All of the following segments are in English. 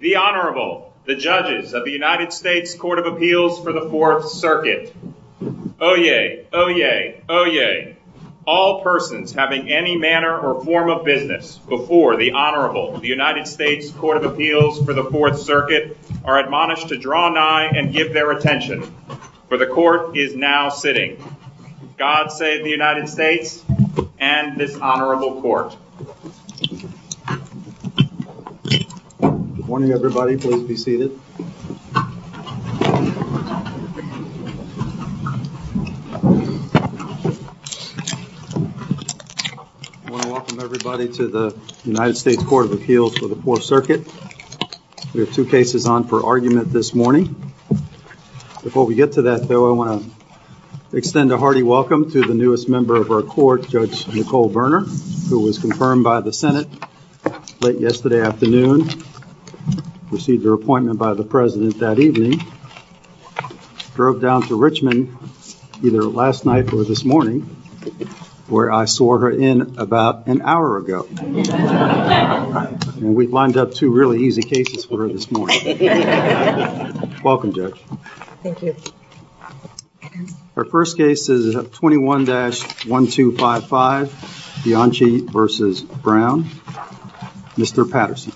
The Honorable, the Judges of the United States Court of Appeals for the Fourth Circuit. Oyez! Oyez! Oyez! All persons having any manner or form of business before the Honorable of the United States Court of Appeals for the Fourth Circuit are admonished to draw nigh and give their attention, for the Court is now sitting. God save the United States and this Honorable Court. Good morning everybody, please be seated. I want to welcome everybody to the United States Court of Appeals for the Fourth Circuit. There are two cases on for argument this morning. Before we get to that though, I want to extend a hearty welcome to the newest member of our court, Judge Nicole Berner, who was confirmed by the Senate late yesterday afternoon. Received her appointment by the President that evening. Drove down to Richmond either last night or this morning, where I saw her in about an hour ago. We've lined up two really easy cases for her this morning. Welcome, Judge. Thank you. Our first case is 21-1255, Bianchi v. Brown. Mr. Patterson.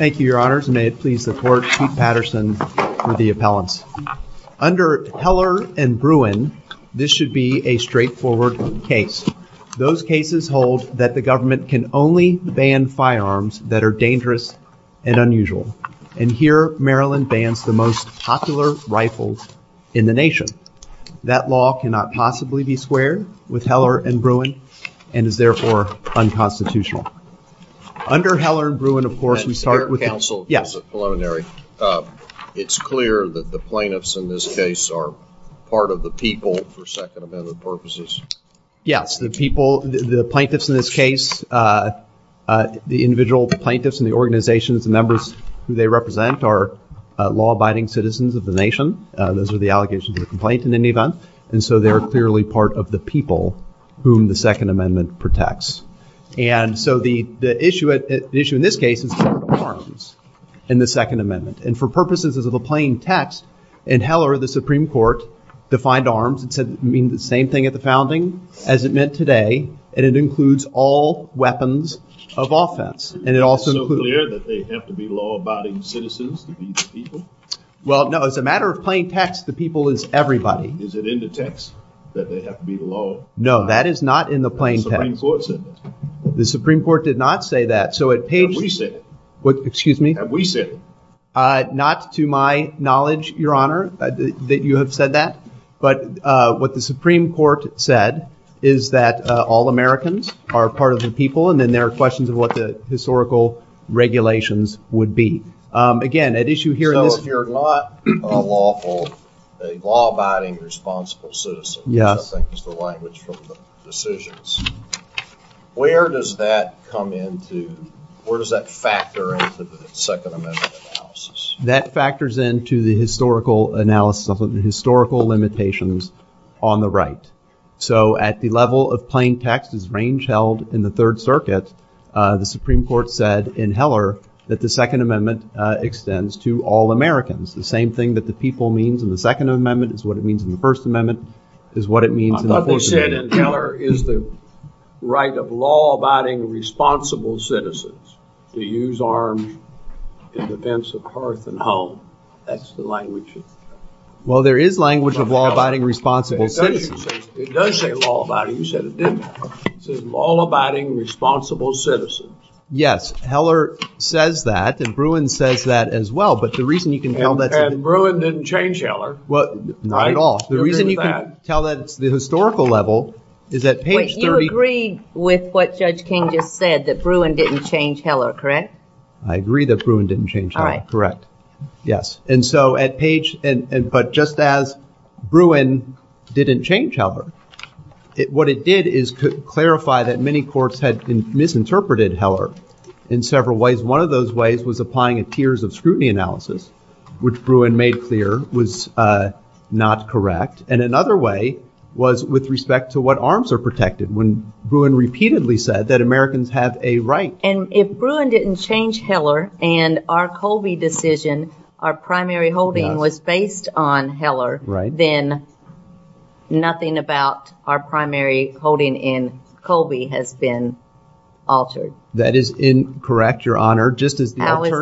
Thank you, Your Honors, and may it please the Court, Pete Patterson for the appellant. Under Heller and Bruin, this should be a straightforward case. Those cases hold that the government can only ban firearms that are dangerous and unusual. And here, Maryland bans the most popular rifles in the nation. That law cannot possibly be squared with Heller and Bruin, and is therefore unconstitutional. Under Heller and Bruin, of course, we start with... The plaintiffs in this case are part of the people for Second Amendment purposes. Yes, the people, the plaintiffs in this case, the individual plaintiffs in the organization, the members who they represent are law-abiding citizens of the nation. Those are the allegations of the complaint in any event. And so they're clearly part of the people whom the Second Amendment protects. And so the issue in this case is firearms in the Second Amendment. And for purposes of the plain text, in Heller, the Supreme Court defined arms. It means the same thing at the founding as it meant today. And it includes all weapons of offense. And it also includes... Is it so clear that they have to be law-abiding citizens to be the people? Well, no, as a matter of plain text, the people is everybody. Is it in the text that they have to be law-abiding citizens? No, that is not in the plain text. The Supreme Court said that. The Supreme Court did not say that. And we said it. What? Excuse me? And we said it. Not to my knowledge, Your Honor, that you have said that. But what the Supreme Court said is that all Americans are part of the people, and then there are questions of what the historical regulations would be. Again, at issue here in this... So if you're not a lawful, a law-abiding, responsible citizen, which I think is the language for decisions, where does that come into... Where does that factor into the Second Amendment analysis? That factors into the historical analysis of the historical limitations on the right. So at the level of plain text as range held in the Third Circuit, the Supreme Court said in Heller that the Second Amendment extends to all Americans. The same thing that the people means in the Second Amendment is what it means in the First Amendment. I thought they said in Heller is the right of law-abiding, responsible citizens to use arms in defense of hearth and home. That's the language. Well, there is language of law-abiding, responsible citizens. It does say law-abiding. You said it didn't. It says law-abiding, responsible citizens. Yes. Heller says that, and Bruin says that as well. But the reason you can tell that... And Bruin didn't change Heller. Not at all. The reason you can tell that at the historical level is that... Wait, you agree with what Judge King just said, that Bruin didn't change Heller, correct? I agree that Bruin didn't change Heller. All right. Correct. Yes. And so at page... But just as Bruin didn't change Heller, what it did is clarify that many courts had misinterpreted Heller in several ways. of scrutiny analysis, which Bruin made clear was not correct. And another way was with respect to what arms are protected, when Bruin repeatedly said that Americans have a right... And if Bruin didn't change Heller and our Colby decision, our primary holding, was based on Heller, then nothing about our primary holding in Colby has been altered. That is incorrect, Your Honor. How is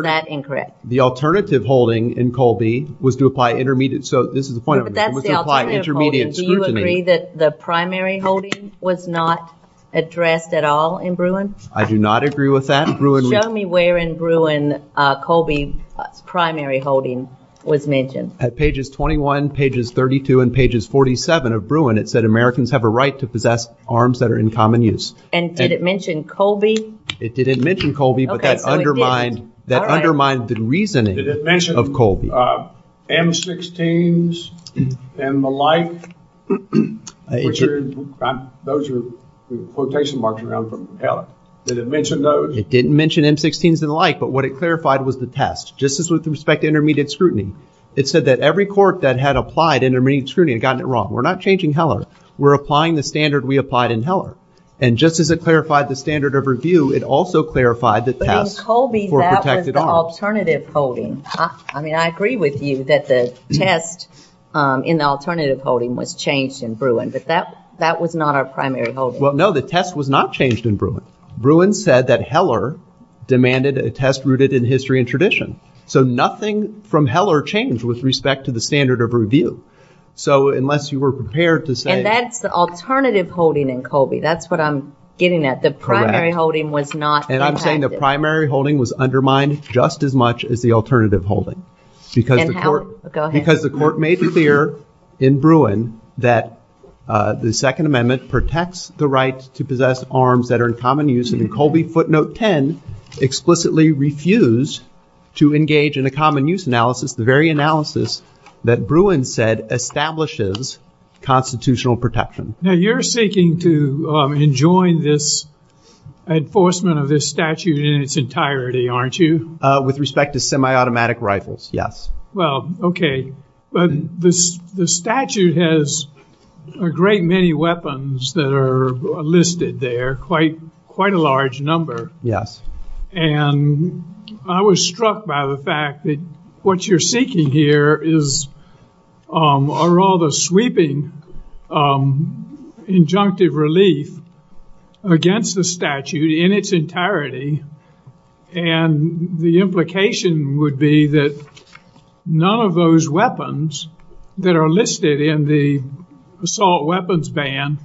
that incorrect? The alternative holding in Colby was to apply intermediate... So this is the point... If that's the alternative holding, do you agree that the primary holding was not addressed at all in Bruin? I do not agree with that. Show me where in Bruin Colby's primary holding was mentioned. At pages 21, pages 32, and pages 47 of Bruin, it said Americans have a right to possess arms that are in common use. And did it mention Colby? It didn't mention Colby, but that undermined the reasoning of Colby. Did it mention M-16s and the like? Those are quotation marks from Heller. Did it mention those? It didn't mention M-16s and the like, but what it clarified was the test. Just as with respect to intermediate scrutiny, it said that every court that had applied intermediate scrutiny had gotten it wrong. We're not changing Heller. We're applying the standard we applied in Heller. And just as it clarified the standard of review, it also clarified that tests were protected arms. But in Colby, that was the alternative holding. I mean, I agree with you that the test in the alternative holding was changed in Bruin, but that was not our primary holding. Well, no, the test was not changed in Bruin. Bruin said that Heller demanded a test rooted in history and tradition. So nothing from Heller changed with respect to the standard of review. So unless you were prepared to say... That's what I'm getting at. The primary holding was not... And I'm saying the primary holding was undermined just as much as the alternative holding. Because the court made clear in Bruin that the Second Amendment protects the right to possess arms that are in common use. And in Colby footnote 10, explicitly refused to engage in a common use analysis, the very analysis that Bruin said establishes constitutional protection. Now, you're seeking to enjoin this enforcement of this statute in its entirety, aren't you? With respect to semi-automatic rifles, yes. Well, okay. But the statute has a great many weapons that are listed there, quite a large number. Yes. And I was struck by the fact that what you're seeking here are all the sweeping injunctive relief against the statute in its entirety. And the implication would be that none of those weapons that are listed in the assault weapons ban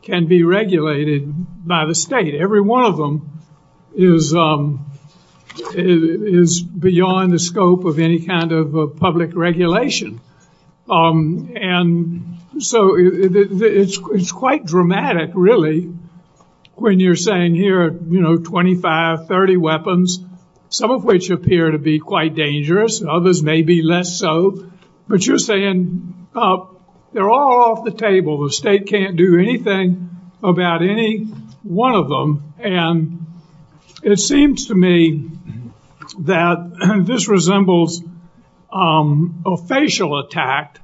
can be regulated by the state. Every one of them is beyond the scope of any kind of public regulation. And so it's quite dramatic, really, when you're saying here, you know, 25, 30 weapons, some of which appear to be quite dangerous, others maybe less so. But you're saying they're all off the table. The state can't do anything about any one of them. And it seems to me that this resembles a facial attack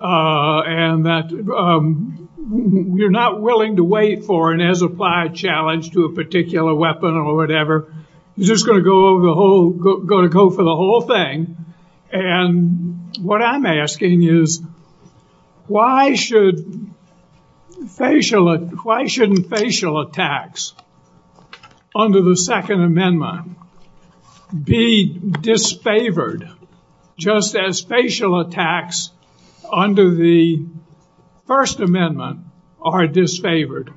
and that you're not willing to wait for an as-applied challenge to a particular weapon or whatever. You're just going to go for the whole thing. And what I'm asking is why shouldn't facial attacks under the Second Amendment be disfavored just as facial attacks under the First Amendment are disfavored?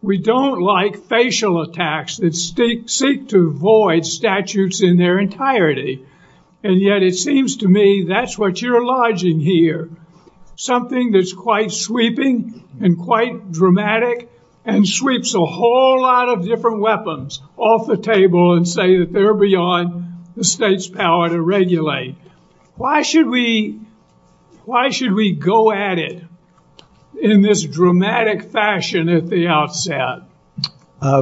We don't like facial attacks that seek to void statutes in their entirety. And yet it seems to me that's what you're lodging here, something that's quite sweeping and quite dramatic and sweeps a whole lot of different weapons off the table and say that they're beyond the state's power to regulate. Why should we go at it in this dramatic fashion at the outset?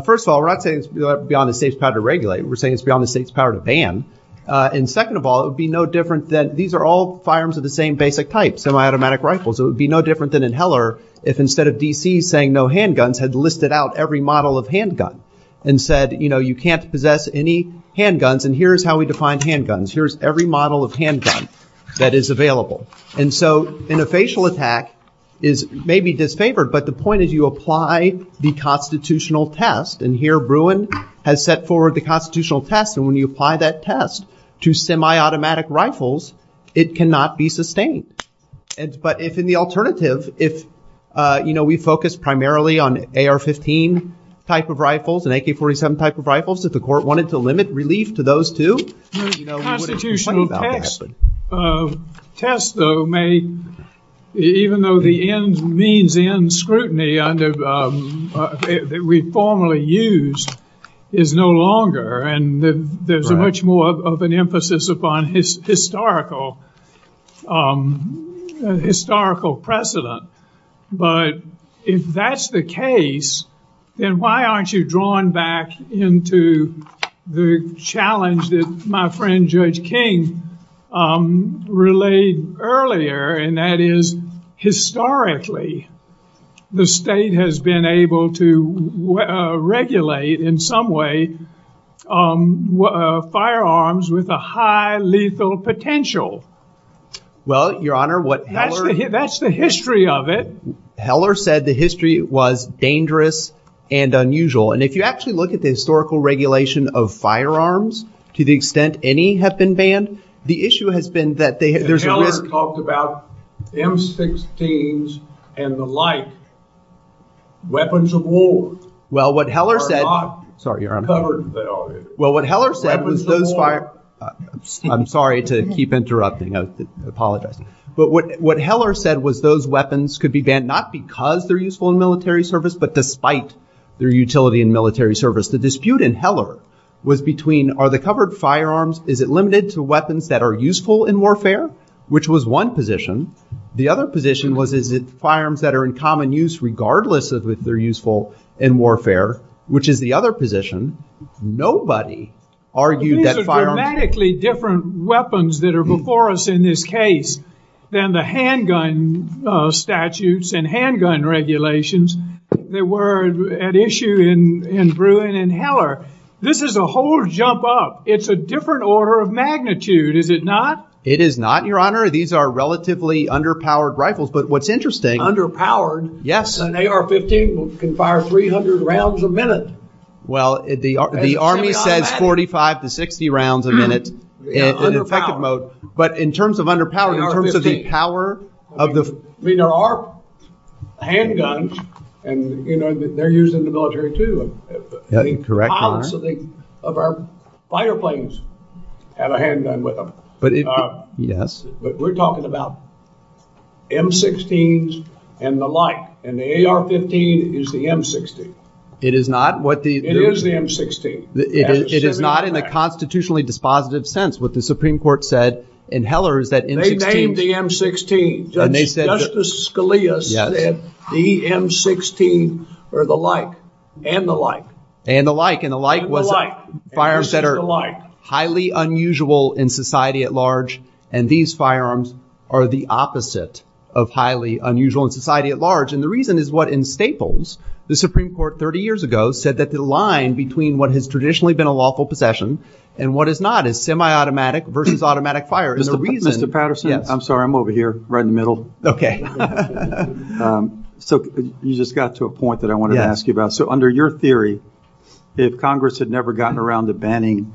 First of all, we're not saying it's beyond the state's power to regulate. We're saying it's beyond the state's power to ban. And second of all, it would be no different that these are all firearms of the same basic type, semiautomatic rifles. It would be no different than in Heller if instead of D.C. saying no handguns had listed out every model of handgun and said, you know, you can't possess any handguns. And here's how we define handguns. Here's every model of handgun that is available. And so in a facial attack, it may be disfavored, but the point is you apply the constitutional test. And here Bruin has set forward the constitutional test. And when you apply that test to semiautomatic rifles, it cannot be sustained. But if in the alternative, if, you know, we focus primarily on AR-15 type of rifles and AK-47 type of rifles, if the court wanted to limit relief to those two, you know, we wouldn't be talking about that. Tests, though, may, even though the means in scrutiny that we formally use is no longer, and there's much more of an emphasis upon historical precedent. But if that's the case, then why aren't you drawn back into the challenge that my friend Judge King relayed earlier, and that is historically the state has been able to regulate in some way firearms with a high lethal potential. Well, Your Honor, what... That's the history of it. Heller said the history was dangerous and unusual. And if you actually look at the historical regulation of firearms to the extent any have been banned, the issue has been that there's... Heller talked about M-16s and the like, weapons of war. Well, what Heller said... Sorry, Your Honor. Well, what Heller said... I'm sorry to keep interrupting. I apologize. But what Heller said was those weapons could be banned not because they're useful in military service, but despite their utility in military service. The dispute in Heller was between, are the covered firearms, is it limited to weapons that are useful in warfare, which was one position. The other position was, is it firearms that are in common use regardless of if they're useful in warfare, which is the other position. Nobody argued that firearms... These are dramatically different weapons that are before us in this case than the handgun statutes and handgun regulations that were at issue in Bruin and Heller. This is a whole jump up. It's a different order of magnitude, is it not? It is not, Your Honor. These are relatively underpowered rifles. But what's interesting... Yes. An AR-15 can fire 300 rounds a minute. Well, the Army says 45 to 60 rounds a minute. But in terms of underpowered, in terms of the power of the... I mean, there are handguns, and they're used in the military, too. Correct, Your Honor. The pilots of our fighter planes have a handgun with them. Yes. But we're talking about M-16s and the like. And the AR-15 is the M-16. It is not. It is the M-16. It is not in a constitutionally dispositive sense. What the Supreme Court said in Heller is that... They named the M-16. Justice Scalia said the M-16 and the like. And the like. And the like was firearms that are highly unusual in society at large. And these firearms are the opposite of highly unusual in society at large. And the reason is what in Staples, the Supreme Court 30 years ago said that the line between what has traditionally been a lawful possession and what is not is semi-automatic versus automatic fire. And the reason... Mr. Patterson, I'm sorry. I'm over here, right in the middle. Okay. So, you just got to a point that I wanted to ask you about. So, under your theory, if Congress had never gotten around to banning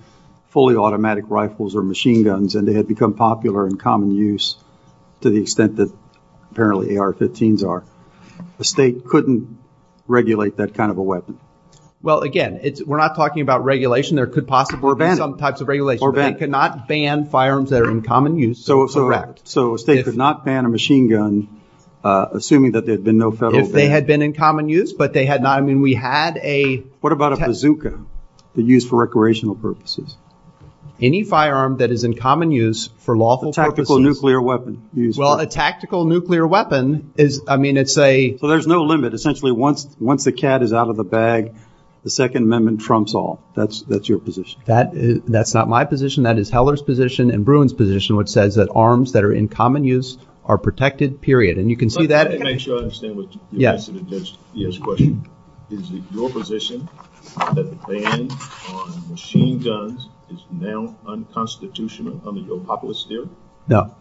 fully automatic rifles or machine guns and they had become popular in common use to the extent that apparently AR-15s are, the state couldn't regulate that kind of a weapon? Well, again, we're not talking about regulation. There could possibly be some types of regulation. Or banning. But they cannot ban firearms that are in common use. Correct. So, a state could not ban a machine gun assuming that there had been no federal ban. If they had been in common use, but they had not. I mean, we had a... What about a bazooka that's used for recreational purposes? Any firearm that is in common use for lawful purposes... A tactical nuclear weapon. Well, a tactical nuclear weapon is, I mean, it's a... So, there's no limit. Essentially, once the cat is out of the bag, the Second Amendment trumps all. That's your position. That's not my position. That is Heller's position and Bruin's position, which says that arms that are in common use are protected, period. And you can see that... Let me make sure I understand what you're asking. Is it your position that the ban on machine guns is now unconstitutional under your populist theory? No.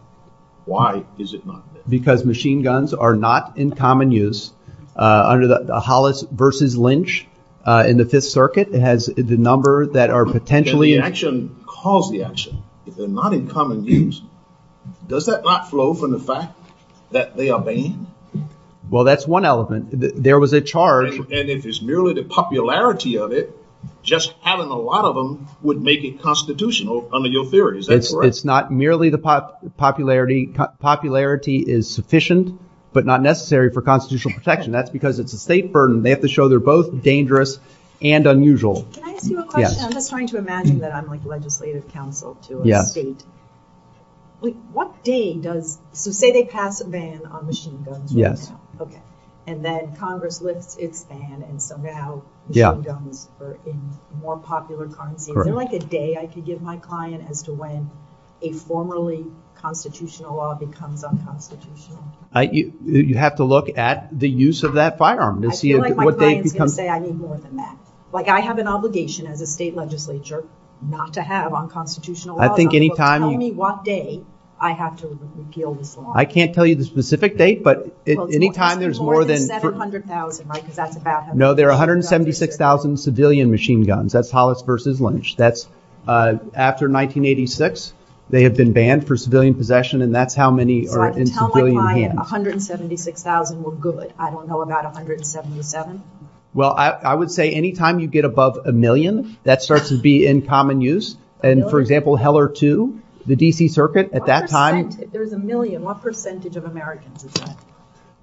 Why is it not? Because machine guns are not in common use. Under the Hollis versus Lynch in the Fifth Circuit, it has the number that are potentially... Can the action cause the action? If they're not in common use, does that not flow from the fact that they are banned? Well, that's one element. There was a charge... And if it's merely the popularity of it, just having a lot of them would make it constitutional under your theories. It's not merely the popularity. Popularity is sufficient, but not necessary for constitutional protection. That's because it's a state burden. They have to show they're both dangerous and unusual. Can I ask you a question? I'm just trying to imagine that I'm like legislative counsel to a state. What day does... So say they pass a ban on machine guns. Yes. Okay. And then Congress lifts its ban, and so now machine guns are in more popular currency. Is there like a day I could give my client as to when a formerly constitutional law becomes unconstitutional? You have to look at the use of that firearm to see what they've become... I feel like my client's going to say I need more than that. Like I have an obligation as a state legislature not to have unconstitutional laws. I think any time... Tell me what day I have to repeal the law. I can't tell you the specific date, but any time there's more than... No, there are 176,000 civilian machine guns. That's Hollis versus Lynch. That's after 1986. They have been banned for civilian possession, and that's how many are in civilian hands. Tell my client 176,000 were good. I don't know about 177. Well, I would say any time you get above a million, that starts to be in common use. And, for example, Heller 2, the D.C. Circuit, at that time... There's a million. What percentage of Americans is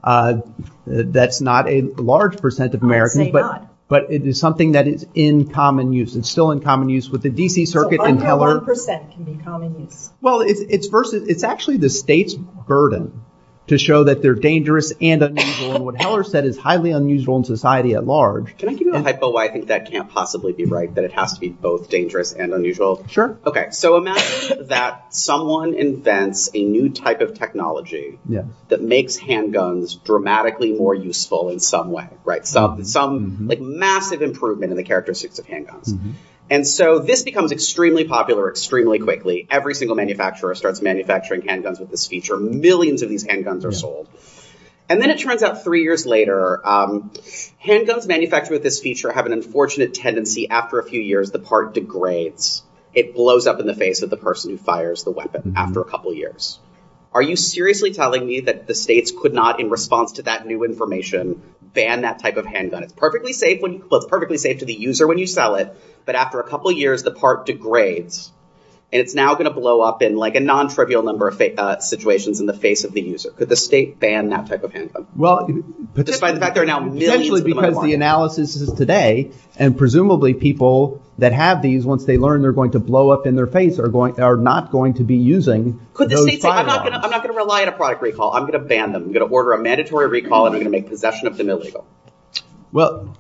that? That's not a large percent of Americans. It may not. But it is something that is in common use. It's still in common use with the D.C. Circuit and Heller. How can one percent be common use? Well, it's actually the state's burden to show that they're dangerous and unusual. And what Heller said is highly unusual in society at large. Can I give you a typo? I think that can't possibly be right, that it has to be both dangerous and unusual. Sure. Okay. So imagine that someone invents a new type of technology that makes handguns dramatically more useful in some way, right? Some massive improvement in the characteristics of handguns. And so this becomes extremely popular extremely quickly. Every single manufacturer starts manufacturing handguns with this feature. Millions of these handguns are sold. And then it turns out three years later, handguns manufactured with this feature have an unfortunate tendency. After a few years, the part degrades. It blows up in the face of the person who fires the weapon after a couple years. Are you seriously telling me that the states could not, in response to that new information, ban that type of handgun? It's perfectly safe to the user when you sell it, but after a couple years, the part degrades. And it's now going to blow up in like a non-trivial number of situations in the face of the user. Could the state ban that type of handgun? Well, especially because the analysis is today. And presumably people that have these, once they learn they're going to blow up in their face, are not going to be using those handguns. I'm not going to rely on a product recall. I'm going to ban them. I'm going to order a mandatory recall and make possession of them illegal. Well,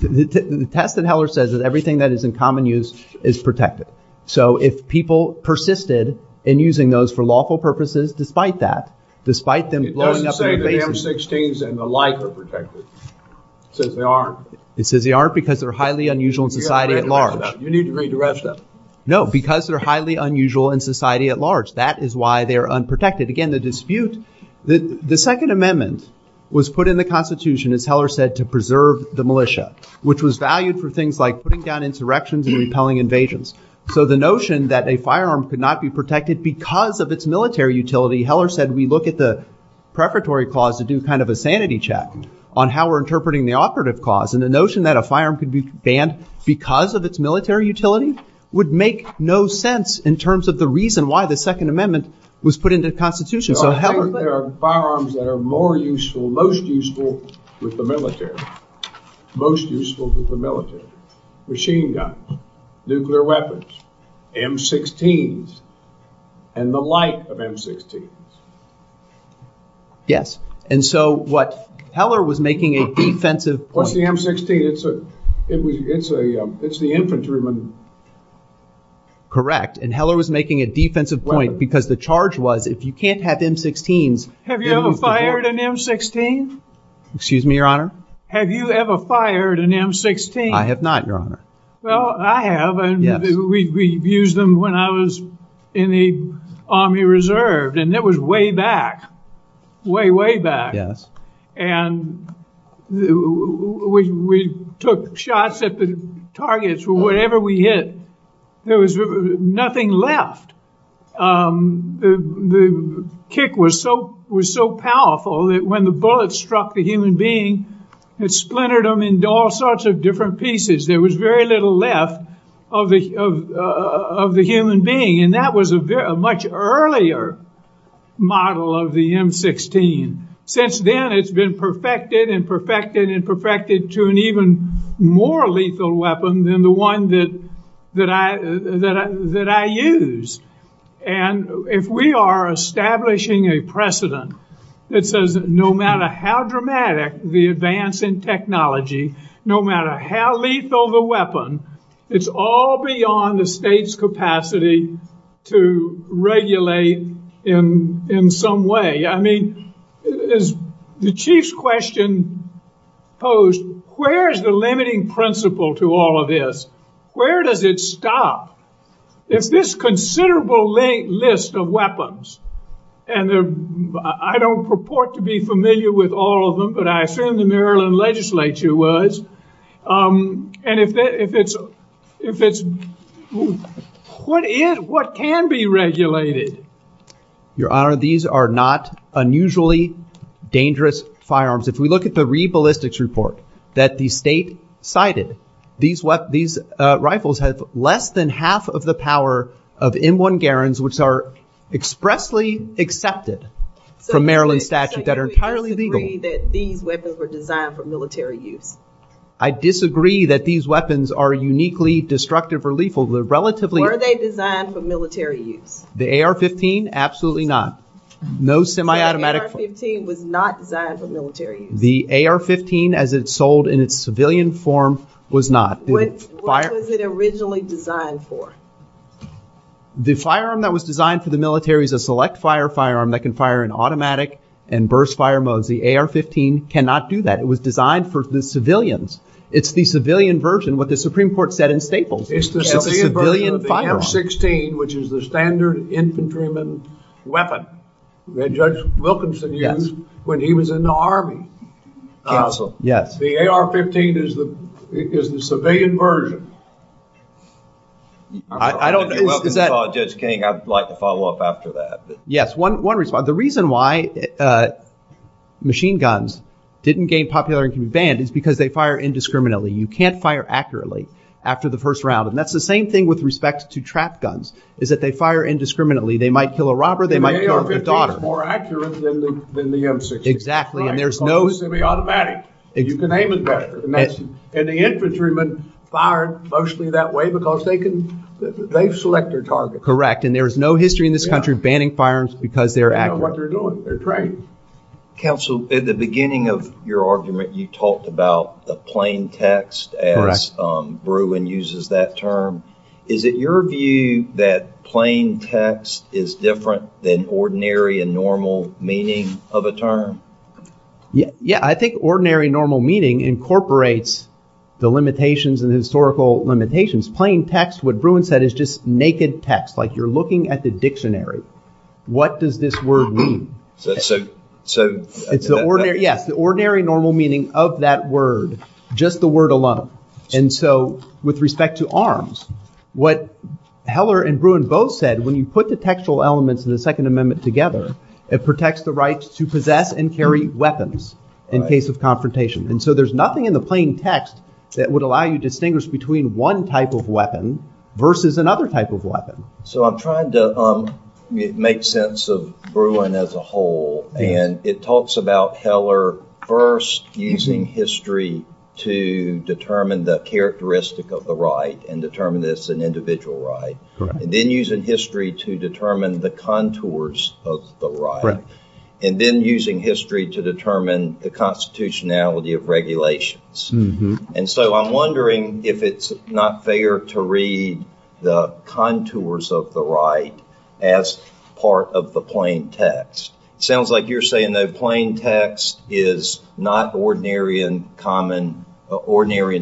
the test that Heller says is everything that is in common use is protected. So, if people persisted in using those for lawful purposes, despite that, despite them blowing up in the face. It doesn't say that M-16s and the like are protected. It says they aren't. It says they aren't because they're highly unusual in society at large. You need to redirect that. No, because they're highly unusual in society at large. That is why they are unprotected. Again, the dispute, the Second Amendment was put in the Constitution, as Heller said, to preserve the militia, which was valued for things like putting down insurrections and repelling invasions. So, the notion that a firearm could not be protected because of its military utility, Heller said, we look at the preparatory clause to do kind of a sanity check on how we're interpreting the operative clause. And the notion that a firearm could be banned because of its military utility would make no sense in terms of the reason why the Second Amendment was put into the Constitution. There are firearms that are more useful, most useful with the military. Most useful with the military. Machine guns, nuclear weapons, M-16s, and the like of M-16s. Yes. And so, what Heller was making a defensive point. What's the M-16? It's the infantryman. Correct. And Heller was making a defensive point because the charge was if you can't have M-16s. Have you ever fired an M-16? Excuse me, Your Honor? Have you ever fired an M-16? I have not, Your Honor. Well, I have. We used them when I was in the Army Reserve. And that was way back. Way, way back. Yes. And we took shots at the targets. Wherever we hit, there was nothing left. The kick was so powerful that when the bullet struck the human being, it splintered them into all sorts of different pieces. There was very little left of the human being. And that was a much earlier model of the M-16. Since then, it's been perfected and perfected and perfected to an even more lethal weapon than the one that I used. And if we are establishing a precedent that says no matter how dramatic the advance in technology, no matter how lethal the weapon, it's all beyond the state's capacity to regulate in some way. I mean, the Chief's question posed, where is the limiting principle to all of this? Where does it stop? If this considerable list of weapons, and I don't purport to be familiar with all of them, but I assume the Maryland legislature was, and if it's, what is, what can be regulated? Your Honor, these are not unusually dangerous firearms. If we look at the re-ballistics report that the state cited, these rifles have less than half of the power of M1 Garands, which are expressly accepted from Maryland statute that are entirely lethal. I disagree that these weapons are uniquely destructive or lethal. Were they designed for military use? The AR-15, absolutely not. No semi-automatic. The AR-15 was not designed for military use. The AR-15 as it's sold in its civilian form was not. What was it originally designed for? The firearm that was designed for the military is a select fire firearm that can fire in automatic and burst fire mode. The AR-15 cannot do that. It was designed for the civilians. It's the civilian version, what the Supreme Court said in Staples. It's the civilian version of the AR-16, which is the standard infantryman weapon that Judge Wilkinson used when he was in the Army. The AR-15 is the civilian version. I don't agree with that. Judge King, I'd like to follow up after that. The reason why machine guns didn't gain popularity and can be banned is because they fire indiscriminately. You can't fire accurately after the first round. And that's the same thing with respect to trap guns, is that they fire indiscriminately. They might kill a robber, they might kill a daughter. The AR-15 is more accurate than the M-16. Exactly. And there's no... It's a semi-automatic. You can aim it better. And the infantryman fired mostly that way because they can, they select their target. Correct. And there's no history in this country banning firearms because they're accurate. They know what they're doing. They're trained. Counsel, at the beginning of your argument, you talked about the plain text as Bruin uses that term. Is it your view that plain text is different than ordinary and normal meaning of a term? Yeah, I think ordinary and normal meaning incorporates the limitations and historical limitations. Plain text, what Bruin said, is just naked text. Like, you're looking at the dictionary. What does this word mean? So... Yeah, the ordinary normal meaning of that word, just the word alone. And so with respect to arms, what Heller and Bruin both said, when you put the textual elements of the Second Amendment together, it protects the right to possess and carry weapons in case of confrontation. And so there's nothing in the plain text that would allow you to distinguish between one type of weapon versus another type of weapon. So I'm trying to make sense of Bruin as a whole. And it talks about Heller first using history to determine the characteristic of the right and determine this an individual right. And then using history to determine the contours of the right. And then using history to determine the constitutionality of regulations. And so I'm wondering if it's not fair to read the contours of the right as part of the plain text. Sounds like you're saying that plain text is not ordinary and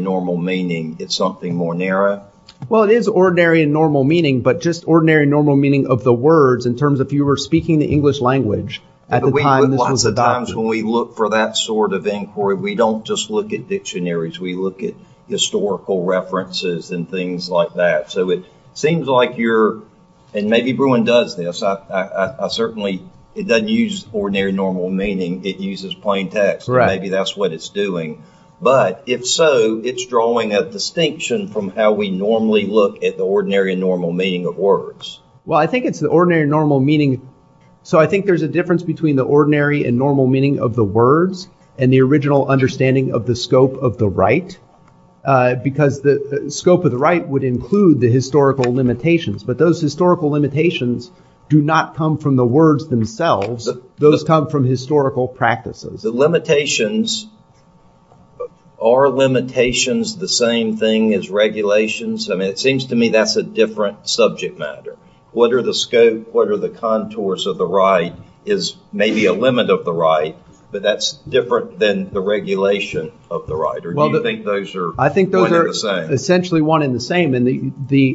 normal meaning. It's something more narrow? Well, it is ordinary and normal meaning. But just ordinary and normal meaning of the words in terms of you were speaking the English language at the time this was adopted. A lot of times when we look for that sort of inquiry, we don't just look at dictionaries. We look at historical references and things like that. So it seems like you're... And maybe Bruin does this. I certainly... It doesn't use ordinary and normal meaning. It uses plain text. Maybe that's what it's doing. But if so, it's drawing a distinction from how we normally look at the ordinary and normal meaning of words. Well, I think it's the ordinary and normal meaning. So I think there's a difference between the ordinary and normal meaning of the words and the original understanding of the scope of the right. Because the scope of the right would include the historical limitations. But those historical limitations do not come from the words themselves. Those come from historical practices. The limitations... Are limitations the same thing as regulations? I mean, it seems to me that's a different subject matter. What are the scope, what are the contours of the right is maybe a limit of the right, but that's different than the regulation of the right. Or do you think those are one and the same? I think those are essentially one and the same.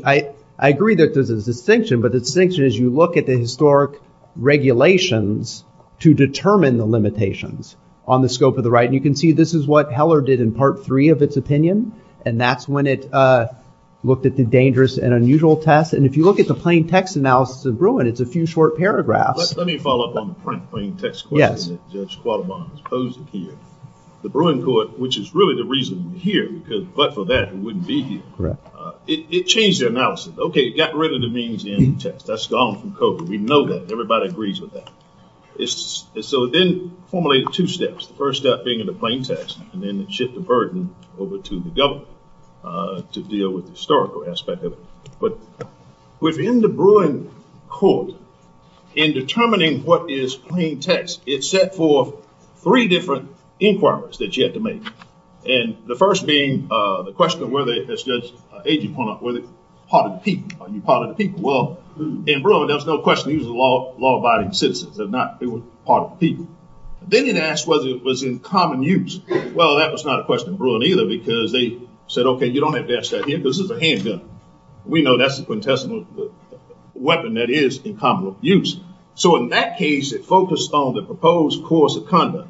I agree that there's a distinction. But the distinction is you look at the historic regulations to determine the limitations on the scope of the right. And you can see this is what Heller did in part three of its opinion. And that's when it looked at the dangerous and unusual test. And if you look at the plain text analysis of Bruin, it's a few short paragraphs. Let me follow up on the plain text question that Judge Quaterbaugh has posed here. The Bruin court, which is really the reason we're here, because but for that it wouldn't be here. It changed their analysis. Okay, got rid of the means of the end of the test. That's gone from code. We know that. Everybody agrees with that. So it then formulated two steps. First step being the plain text, and then it shipped the burden over to the government to deal with the historical aspect of it. Within the Bruin court, in determining what is plain text, it's set for three different inquiries that you have to make. And the first being the question of whether it's just an agent point, whether it's part of the people. Are you part of the people? Well, in Bruin, there's no question he's a law-abiding citizen. They're not. They were part of the people. Then it asked whether it was in common use. Well, that was not a question of Bruin either, because they said, okay, you don't have to ask that. This is a hand bill. We know that's the contestant weapon that is in common use. So in that case, it focused on the proposed course of conduct.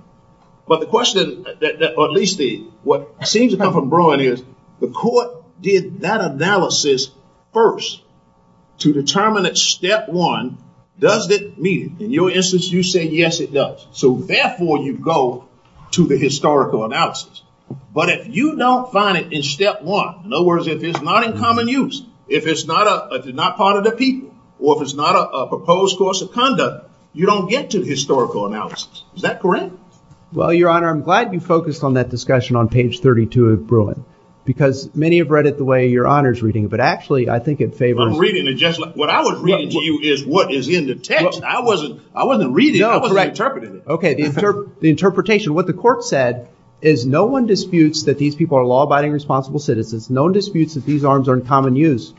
But the question that at least what seems to come from Bruin is the court did that analysis first to determine that step one, does it meet it? In your instance, you said yes, it does. So therefore, you go to the historical analysis. But if you don't find it in step one, in other words, if it's not in common use, if it's not part of the people, or if it's not a proposed course of conduct, you don't get to historical analysis. Is that correct? Well, Your Honor, I'm glad you focused on that discussion on page 32 of Bruin. Because many have read it the way Your Honor is reading it. But actually, I think it favors you. What I was reading to you is what is in the text. I wasn't reading it. I wasn't interpreting it. Okay. The interpretation. What the court said is no one disputes that these people are law-abiding responsible citizens. No one disputes that these arms are in common use.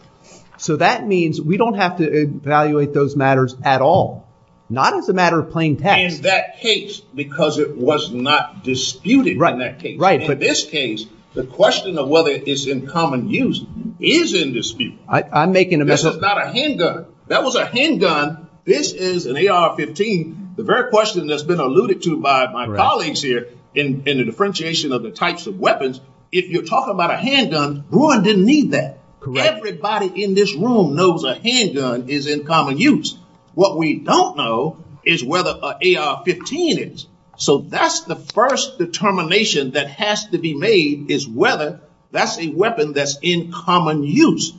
So that means we don't have to evaluate those matters at all. Not as a matter of playing peck. In that case, because it was not disputed in that case. Right. In this case, the question of whether it is in common use is in dispute. I'm making a mistake. This is not a handgun. That was a handgun. This is an AR-15. The very question that's been alluded to by my colleagues here in the differentiation of the types of weapons, if you're talking about a handgun, Bruin didn't need that. Everybody in this room knows a handgun is in common use. What we don't know is whether an AR-15 is. So that's the first determination that has to be made is whether that's a weapon that's in common use.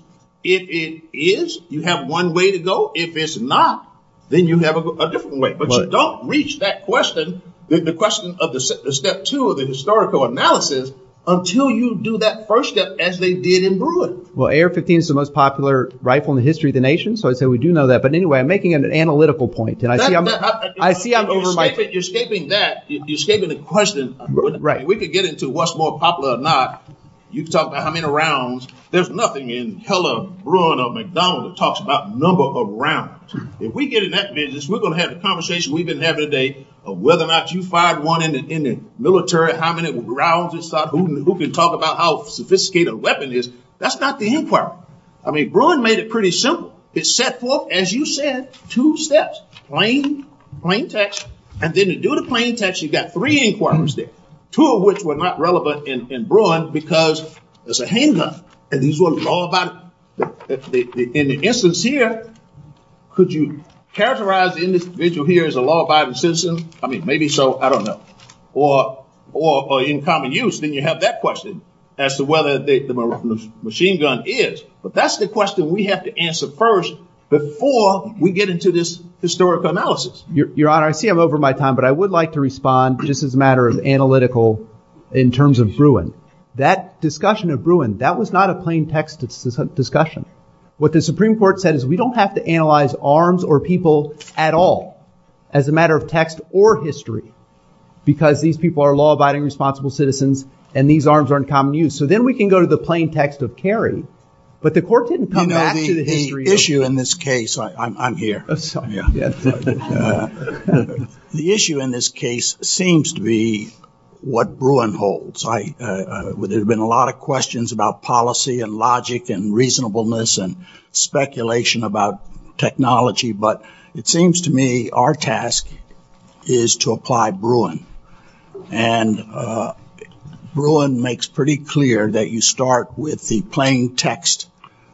If it is, you have one way to go. If it's not, then you have a different way. But don't reach that question, the question of the step two of the historical analysis, until you do that first step as they did in Bruin. Well, AR-15 is the most popular rifle in the history of the nation. So we do know that. But anyway, I'm making an analytical point. You're escaping that. You're escaping the question. Right. We could get into what's more popular or not. You can talk about how many rounds. There's nothing in Keller, Bruin, or McDonald's that talks about number of rounds. If we get in that business, we're going to have a conversation we've been having today of whether or not you fired one in the military, how many rounds it's got, who can talk about how sophisticated a weapon is. That's not the inquiry. I mean, Bruin made it pretty simple. It's set forth, as you said, two steps, plain text. And then you do the plain text, you've got three inquiries there, two of which were not relevant in Bruin because it's a handgun. In the instance here, could you characterize the individual here as a law-abiding citizen? I mean, maybe so, I don't know. Or in common use, then you have that question as to whether the machine gun is. But that's the question we have to answer first before we get into this historical analysis. Your Honor, I see I'm over my time, but I would like to respond just as a matter of analytical in terms of Bruin. That discussion of Bruin, that was not a plain text discussion. What the Supreme Court said is we don't have to analyze arms or people at all as a matter of text or history because these people are law-abiding responsible citizens and these arms are in common use. So then we can go to the plain text of Kerry. But the court didn't come back to the history issue. The issue in this case, I'm here. The issue in this case seems to be what Bruin holds. There have been a lot of questions about policy and logic and reasonableness and speculation about technology. But it seems to me our task is to apply Bruin. And Bruin makes pretty clear that you start with the plain text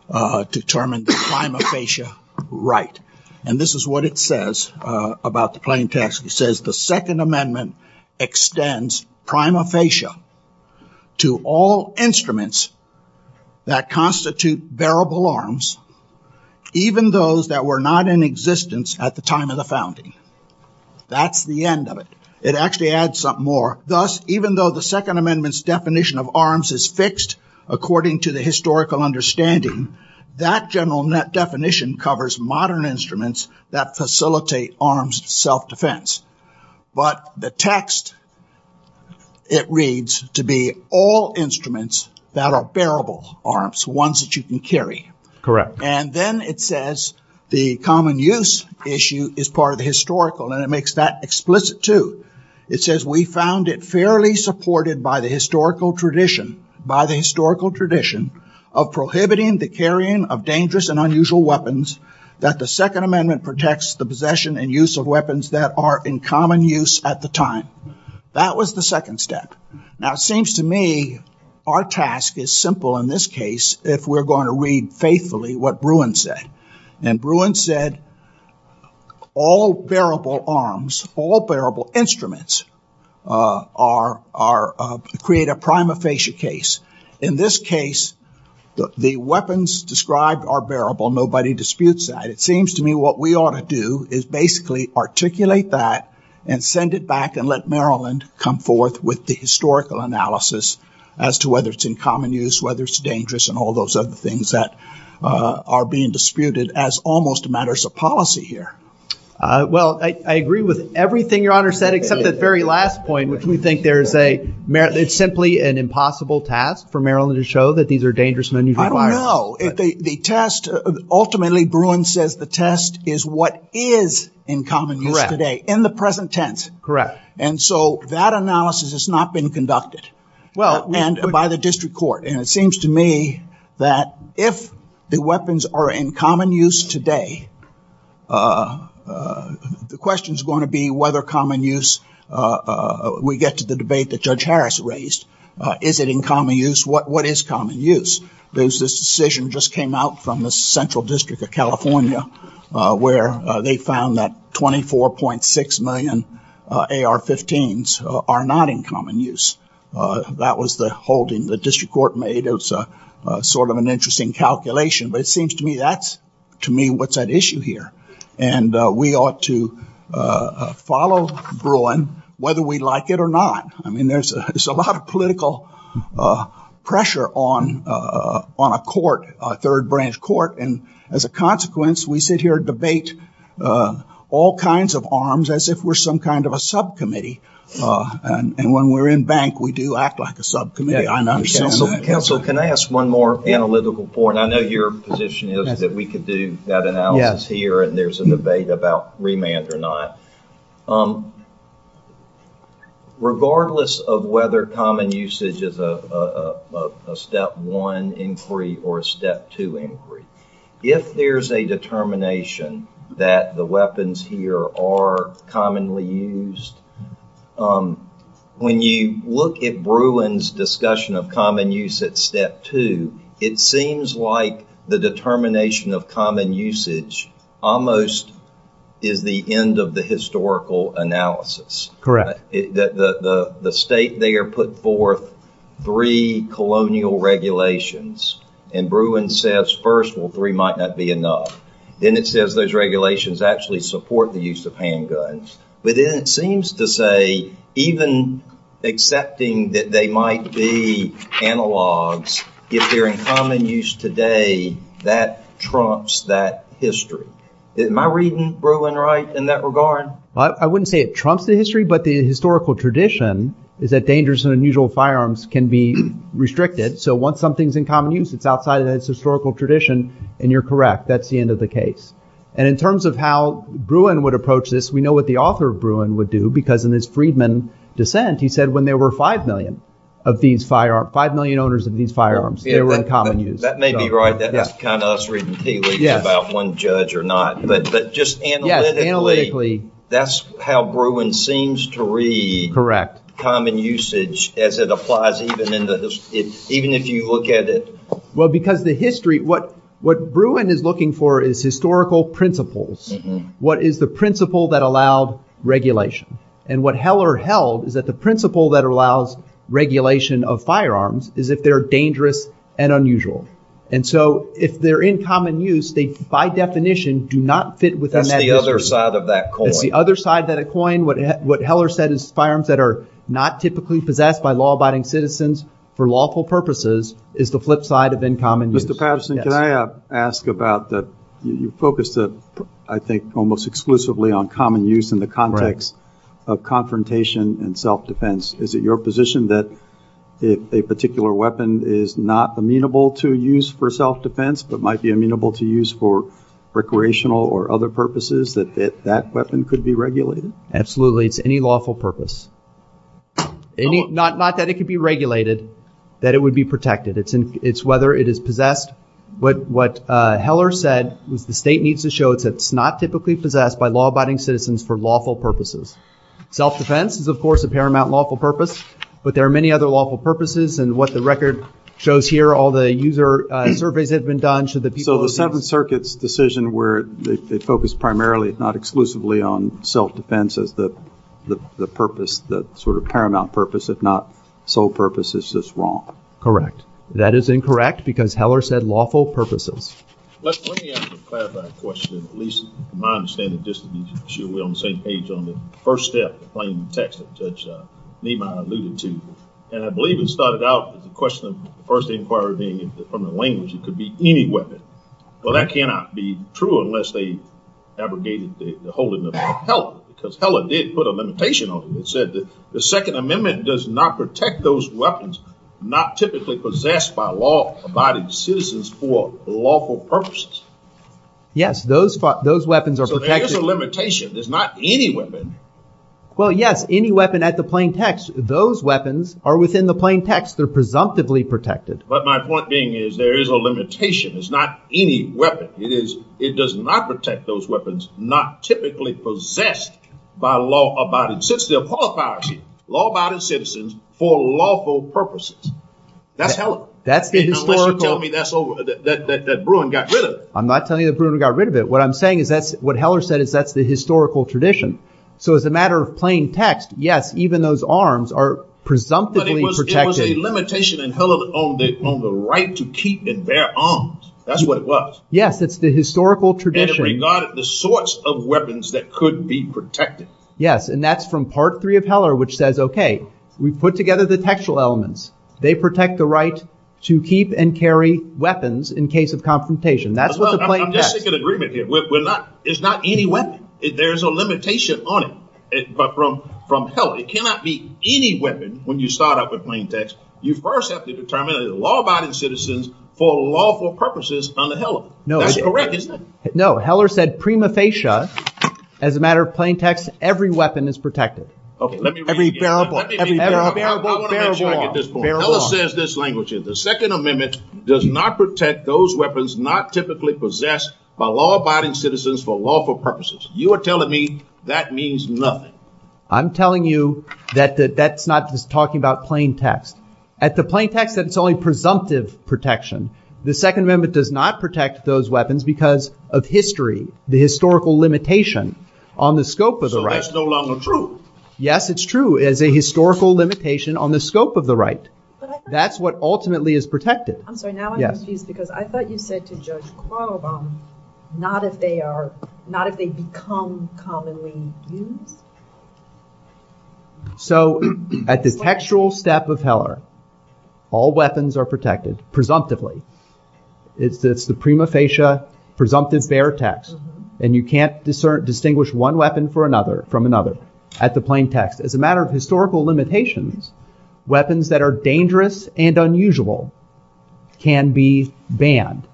to determine the prima facie right. And this is what it says about the plain text. It says the Second Amendment extends prima facie to all instruments that constitute bearable arms, even those that were not in existence at the time of the founding. That's the end of it. It actually adds something more. Thus, even though the Second Amendment's definition of arms is fixed according to the historical understanding, that general definition covers modern instruments that facilitate arms self-defense. But the text, it reads to be all instruments that are bearable arms, ones that you can carry. Correct. And then it says the common use issue is part of the historical. And it makes that explicit, too. It says we found it fairly supported by the historical tradition of prohibiting the carrying of dangerous and unusual weapons that the Second Amendment protects the possession and use of weapons that are in common use at the time. That was the second step. Now, it seems to me our task is simple in this case if we're going to read faithfully what Bruin said. And Bruin said all bearable arms, all bearable instruments create a prima facie case. In this case, the weapons described are bearable. Nobody disputes that. It seems to me what we ought to do is basically articulate that and send it back and let Maryland come forth with the historical analysis as to whether it's in common use, whether it's dangerous and all those other things that are being disputed as almost matters of policy here. Well, I agree with everything Your Honor said except that very last point, which we think there's simply an impossible task for Maryland to show that these are dangerous and unusual weapons. I don't know. The test, ultimately Bruin says the test is what is in common use today in the present tense. Correct. And so that analysis has not been conducted. And by the district court. And it seems to me that if the weapons are in common use today, the question is going to be whether common use we get to the debate that Judge Harris raised. Is it in common use? What is common use? There's this decision just came out from the Central District of California where they found that 24.6 million AR-15s are not in common use. That was the holding the district court made as sort of an interesting calculation. But it seems to me that's to me what's at issue here. And we ought to follow Bruin whether we like it or not. I mean, there's a lot of political pressure on on a court, a third branch court. And as a consequence, we sit here and debate all kinds of arms as if we're some kind of a subcommittee. And when we're in bank, we do act like a subcommittee. Counsel, can I ask one more analytical point? I know your position is that we could do that analysis here. And there's a debate about remand or not. Regardless of whether common usage is a step one inquiry or a step two inquiry, if there's a determination that the weapons here are commonly used, when you look at Bruin's discussion of common use at step two, it seems like the determination of common usage almost is the end of the historical analysis. Correct. The state there put forth three colonial regulations. And Bruin says, first, well, three might not be enough. Then it says those regulations actually support the use of handguns. But then it seems to say even accepting that they might be analogs, if they're in common use today, that trumps that history. Am I reading Bruin right in that regard? I wouldn't say it trumps the history, but the historical tradition is that dangerous and unusual firearms can be restricted. So once something's in common use, it's outside of its historical tradition. And you're correct. That's the end of the case. And in terms of how Bruin would approach this, we know what the author of Bruin would do. Because in his Friedman dissent, he said when there were five million of these firearms, five million owners of these firearms, they were in common use. That may be right. That's kind of us reading tea leaves about one judge or not. But just analytically, that's how Bruin seems to read common usage as it applies even if you look at it. Well, because the history, what Bruin is looking for is historical principles. What is the principle that allowed regulation? And what Heller held is that the principle that allows regulation of firearms is that they're dangerous and unusual. And so if they're in common use, they, by definition, do not fit within that history. That's the other side of that coin. That's the other side of that coin. What Heller said is firearms that are not typically possessed by law-abiding citizens for lawful purposes is the flip side of in common use. Mr. Patterson, can I ask about that? You focused, I think, almost exclusively on common use in the context of confrontation and self-defense. Is it your position that if a particular weapon is not amenable to use for self-defense but might be amenable to use for recreational or other purposes, that that weapon could be regulated? Absolutely. It's any lawful purpose. Not that it could be regulated, that it would be protected. It's whether it is possessed. What Heller said is the state needs to show that it's not typically possessed by law-abiding citizens for lawful purposes. Self-defense is, of course, a paramount lawful purpose. But there are many other lawful purposes. And what the record shows here, all the user surveys have been done. So the Seventh Circuit's decision where they focused primarily, if not exclusively, on self-defense as the purpose, the sort of paramount purpose, if not sole purpose, is just wrong. Correct. That is incorrect because Heller said lawful purposes. Let me ask a clarifying question, at least from my understanding, just to be sure we're on the same page on the first step of the claim in the text that Judge Nima alluded to. And I believe it started out with the question of the person inquiring from the language, it could be any weapon. Well, that cannot be true unless they abrogated the whole thing about Heller. Because Heller did put a limitation on it. It said that the Second Amendment does not protect those weapons not typically possessed by law-abiding citizens for lawful purposes. Yes, those weapons are protected. So there is a limitation. There's not any weapon. Well, yes, any weapon at the plain text. Those weapons are within the plain text. They're presumptively protected. But my point being is there is a limitation. It's not any weapon. It is, it does not protect those weapons not typically possessed by law-abiding citizens. It applies to law-abiding citizens for lawful purposes. That's Heller. That's the historical. Unless you're telling me that's over, that Bruin got rid of it. I'm not telling you that Bruin got rid of it. What I'm saying is that's, what Heller said is that's the historical tradition. So as a matter of plain text, yes, even those arms are presumptively protected. It was a limitation in Heller on the right to keep and bear arms. That's what it was. Yes, it's the historical tradition. And it regarded the sorts of weapons that could be protected. Yes, and that's from Part 3 of Heller which says, okay, we put together the textual elements. They protect the right to keep and carry weapons in case of confrontation. That's what the plain text. I'm just making an agreement here. It's not any weapon. There is a limitation on it. But from Heller, it cannot be any weapon when you start off with plain text. You first have to determine that law-abiding citizens for lawful purposes under Heller. That's correct, isn't it? No, Heller said prima facie, as a matter of plain text, every weapon is protected. Okay, let me read it again. Every bearable, every bearable, bearable. Heller says this language here. The Second Amendment does not protect those weapons not typically possessed by law-abiding citizens for lawful purposes. You are telling me that means nothing. I'm telling you that that's not just talking about plain text. At the plain text, it's only presumptive protection. The Second Amendment does not protect those weapons because of history, the historical limitation on the scope of the right. So that's no longer true. Yes, it's true. It is a historical limitation on the scope of the right. That's what ultimately is protected. I'm sorry. Now I'm confused because I thought you said to Judge Qualabong not if they are, not if they become commonly used. So at the textual step of Heller, all weapons are protected, presumptively. It's the prima facie, presumptive bear text. And you can't distinguish one weapon from another at the plain text. But as a matter of historical limitations, weapons that are dangerous and unusual can be banned.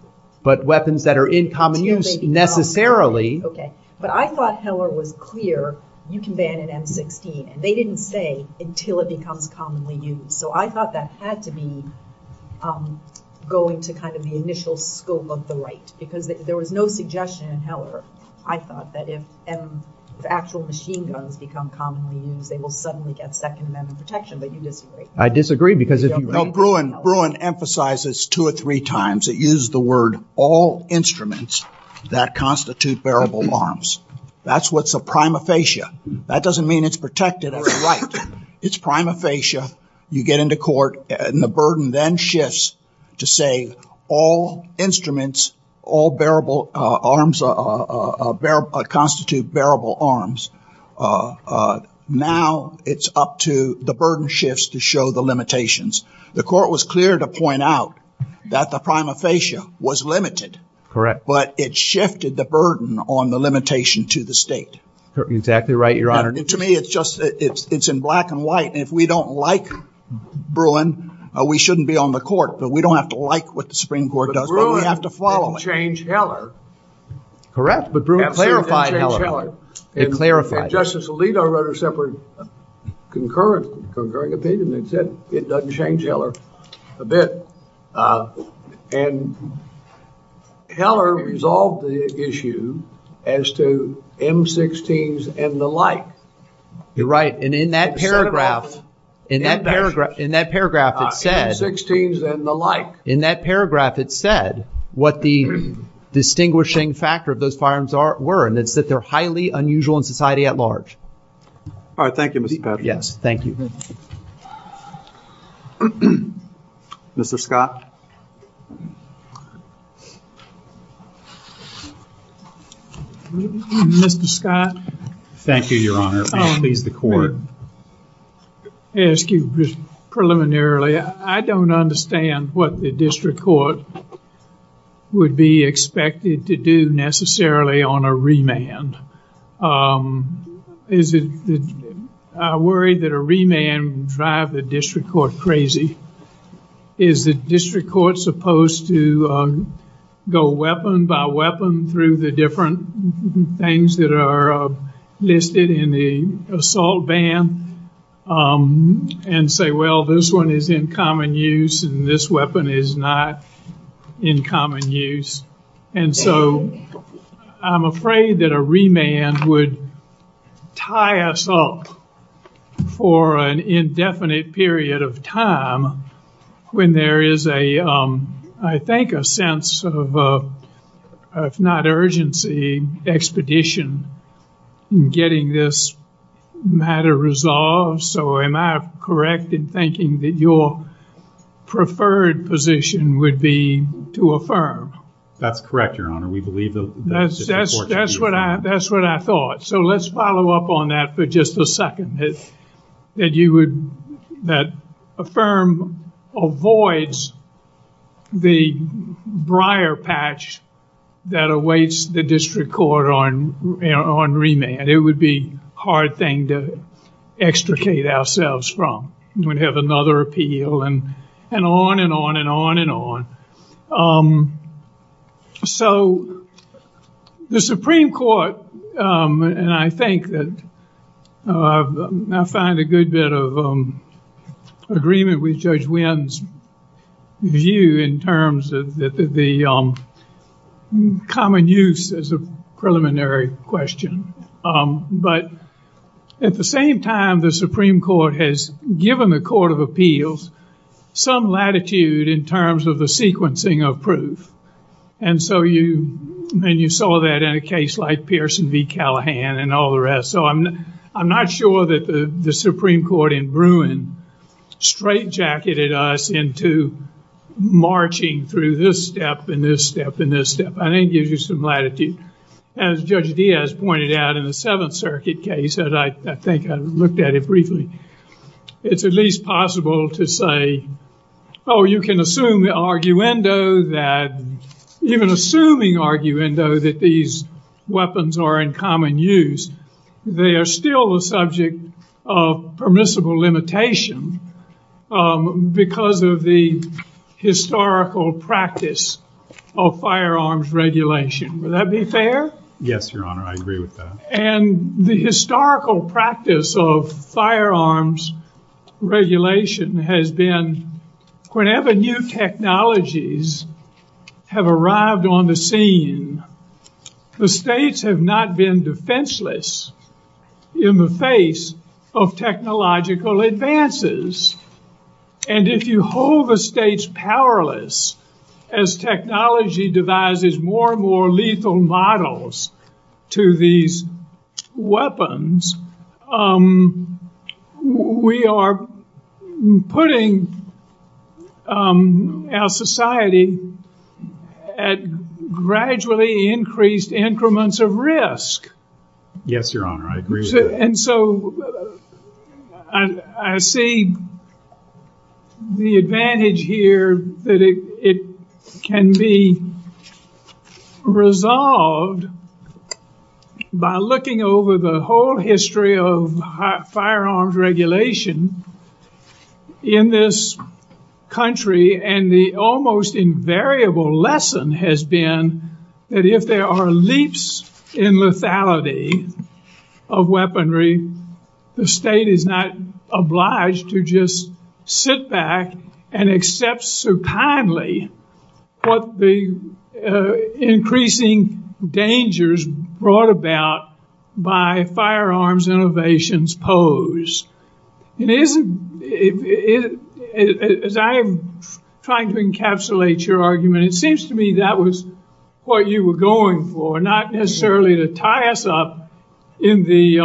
But weapons that are in common use necessarily. Okay. But I thought Heller was clear you can ban an M16. And they didn't say until it becomes commonly used. So I thought that had to be going to kind of the initial scope of the right. Because there was no suggestion in Heller. I thought that if the actual machine guns become commonly used, they will suddenly get second amendment protection. But you disagree. I disagree because if you No, Bruin emphasizes two or three times. It uses the word all instruments that constitute bearable arms. That's what's a prima facie. That doesn't mean it's protected or right. It's prima facie. You get into court and the burden then shifts to say all instruments, all bearable arms constitute bearable arms. Now it's up to the burden shifts to show the limitations. The court was clear to point out that the prima facie was limited. Correct. But it shifted the burden on the limitation to the state. Exactly right, Your Honor. To me it's just it's in black and white. And if we don't like Bruin, we shouldn't be on the court. We don't have to like what the Supreme Court does. We have to follow it. But Bruin didn't change Heller. Correct. But Bruin clarified Heller. Justice Alito wrote a separate concurring opinion that said it doesn't change Heller a bit. And Heller resolved the issue as to M-16s and the like. You're right. And in that paragraph, in that paragraph, in that paragraph it said. M-16s and the like. In that paragraph it said what the distinguishing factor of those firearms were. And it said they're highly unusual in society at large. All right. Thank you. Yes. Thank you. Mr. Scott. Thank you, Your Honor. I'll leave the court. I'll ask you preliminarily. I don't understand what the district court would be expected to do necessarily on a remand. I worry that a remand would drive the district court crazy. Is the district court supposed to go weapon by weapon through the different things that are listed in the assault ban? And say, well, this one is in common use and this weapon is not in common use. And so I'm afraid that a remand would tie us up for an indefinite period of time when there is a, I think, a sense of, if not urgency, expedition in getting this matter resolved. So am I correct in thinking that your preferred position would be to affirm? That's correct, Your Honor. We believe that. That's what I thought. So let's follow up on that for just a second. That you would, that affirm avoids the briar patch that awaits the district court on remand. It would be a hard thing to extricate ourselves from. We'd have another appeal and on and on and on and on. So the Supreme Court, and I think that I find a good bit of agreement with Judge Wynn's view in terms of the common use as a preliminary question. But at the same time, the Supreme Court has given the Court of Appeals some latitude in terms of the sequencing of proof. And so you saw that in a case like Pearson v. Callahan and all the rest. So I'm not sure that the Supreme Court in Bruin straightjacketed us into marching through this step and this step and this step. I think it gives you some latitude. As Judge Diaz pointed out in the Seventh Circuit case, and I think I looked at it briefly, it's at least possible to say, oh, you can assume the arguendo that, even assuming arguendo, that these weapons are in common use. They are still the subject of permissible limitation because of the historical practice of firearms regulation. Would that be fair? Yes, Your Honor, I agree with that. And the historical practice of firearms regulation has been, whenever new technologies have arrived on the scene, the states have not been defenseless in the face of technological advances. And if you hold the states powerless as technology devises more and more lethal models to these weapons, we are putting our society at gradually increased increments of risk. Yes, Your Honor, I agree with that. And so I see the advantage here that it can be resolved by looking over the whole history of firearms regulation in this country. And the almost invariable lesson has been that if there are leaps in lethality of weaponry, the state is not obliged to just sit back and accept so kindly what the increasing dangers brought about by firearms innovations pose. As I am trying to encapsulate your argument, it seems to me that was what you were going for, not necessarily to tie us up in the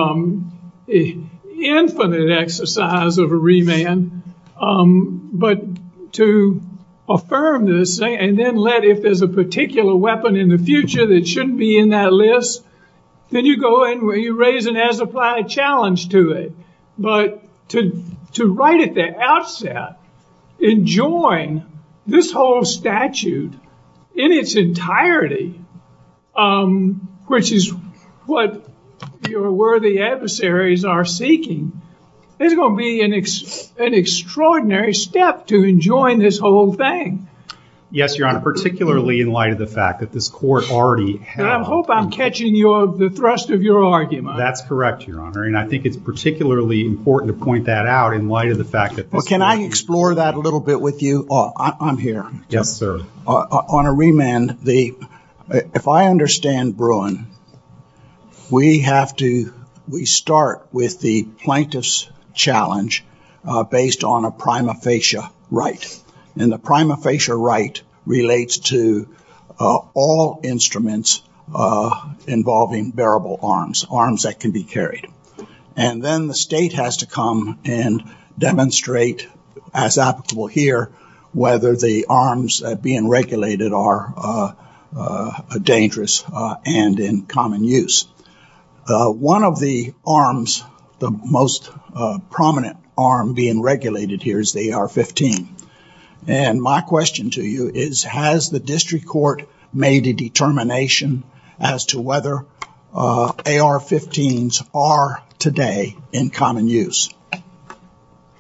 infinite exercise of a remand, but to affirm this, and then let, if there's a particular weapon in the future that shouldn't be in that list, then you go in where you raise an as-applied challenge to it. But to write at the outset, enjoin this whole statute in its entirety, which is what your worthy adversaries are seeking, is going to be an extraordinary step to enjoin this whole thing. Yes, Your Honor, particularly in light of the fact that this court already has. I hope I'm catching the thrust of your argument. That's correct, Your Honor. And I think it's particularly important to point that out in light of the fact that. Well, can I explore that a little bit with you? I'm here. Yes, sir. On a remand, if I understand Bruin, we have to, we start with the plaintiff's challenge based on a prima facie right. And the prima facie right relates to all instruments involving bearable arms, arms that can be carried. And then the state has to come and demonstrate, as applicable here, whether the arms being regulated are dangerous and in common use. One of the arms, the most prominent arm being regulated here is the AR-15. And my question to you is, has the district court made a determination as to whether AR-15s are today in common use?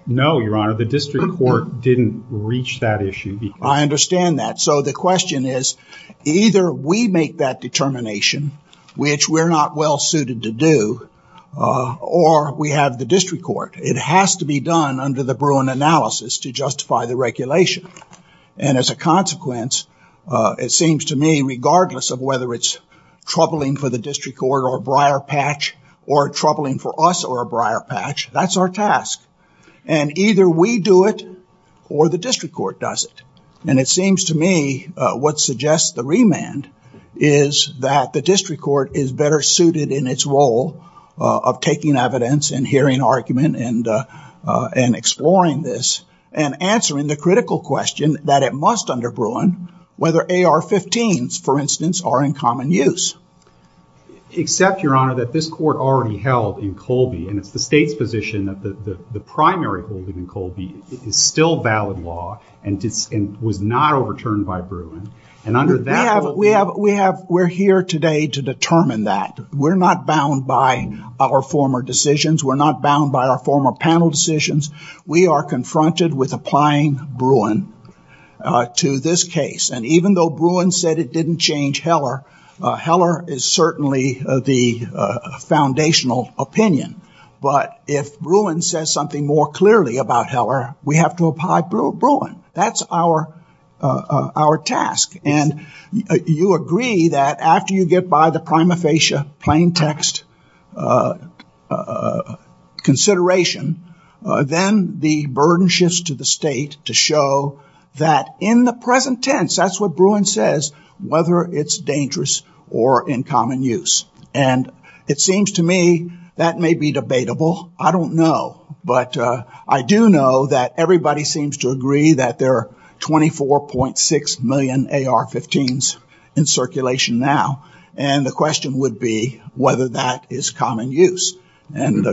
No, Your Honor, the district court didn't reach that issue. I understand that. So the question is, either we make that determination, which we're not well suited to do, or we have the district court. It has to be done under the Bruin analysis to justify the regulation. And as a consequence, it seems to me, regardless of whether it's troubling for the district court or a briar patch or troubling for us or a briar patch, that's our task. And either we do it or the district court does it. And it seems to me what suggests the remand is that the district court is better suited in its role of taking evidence and hearing argument and exploring this and answering the critical question that it must under Bruin, whether AR-15s, for instance, are in common use. Except, Your Honor, that this court already held in Colby, and it's the state's position that the primary holding in Colby is still valid law and was not overturned by Bruin. We're here today to determine that. We're not bound by our former decisions. We're not bound by our former panel decisions. We are confronted with applying Bruin to this case. And even though Bruin said it didn't change Heller, Heller is certainly the foundational opinion. But if Bruin says something more clearly about Heller, we have to apply Bruin. That's our task. And you agree that after you get by the prima facie, plain text consideration, then the burden shifts to the state to show that in the present tense, that's what Bruin says, whether it's dangerous or in common use. And it seems to me that may be debatable. I don't know. But I do know that everybody seems to agree that there are 24.6 million AR-15s in circulation now. And the question would be whether that is common use. And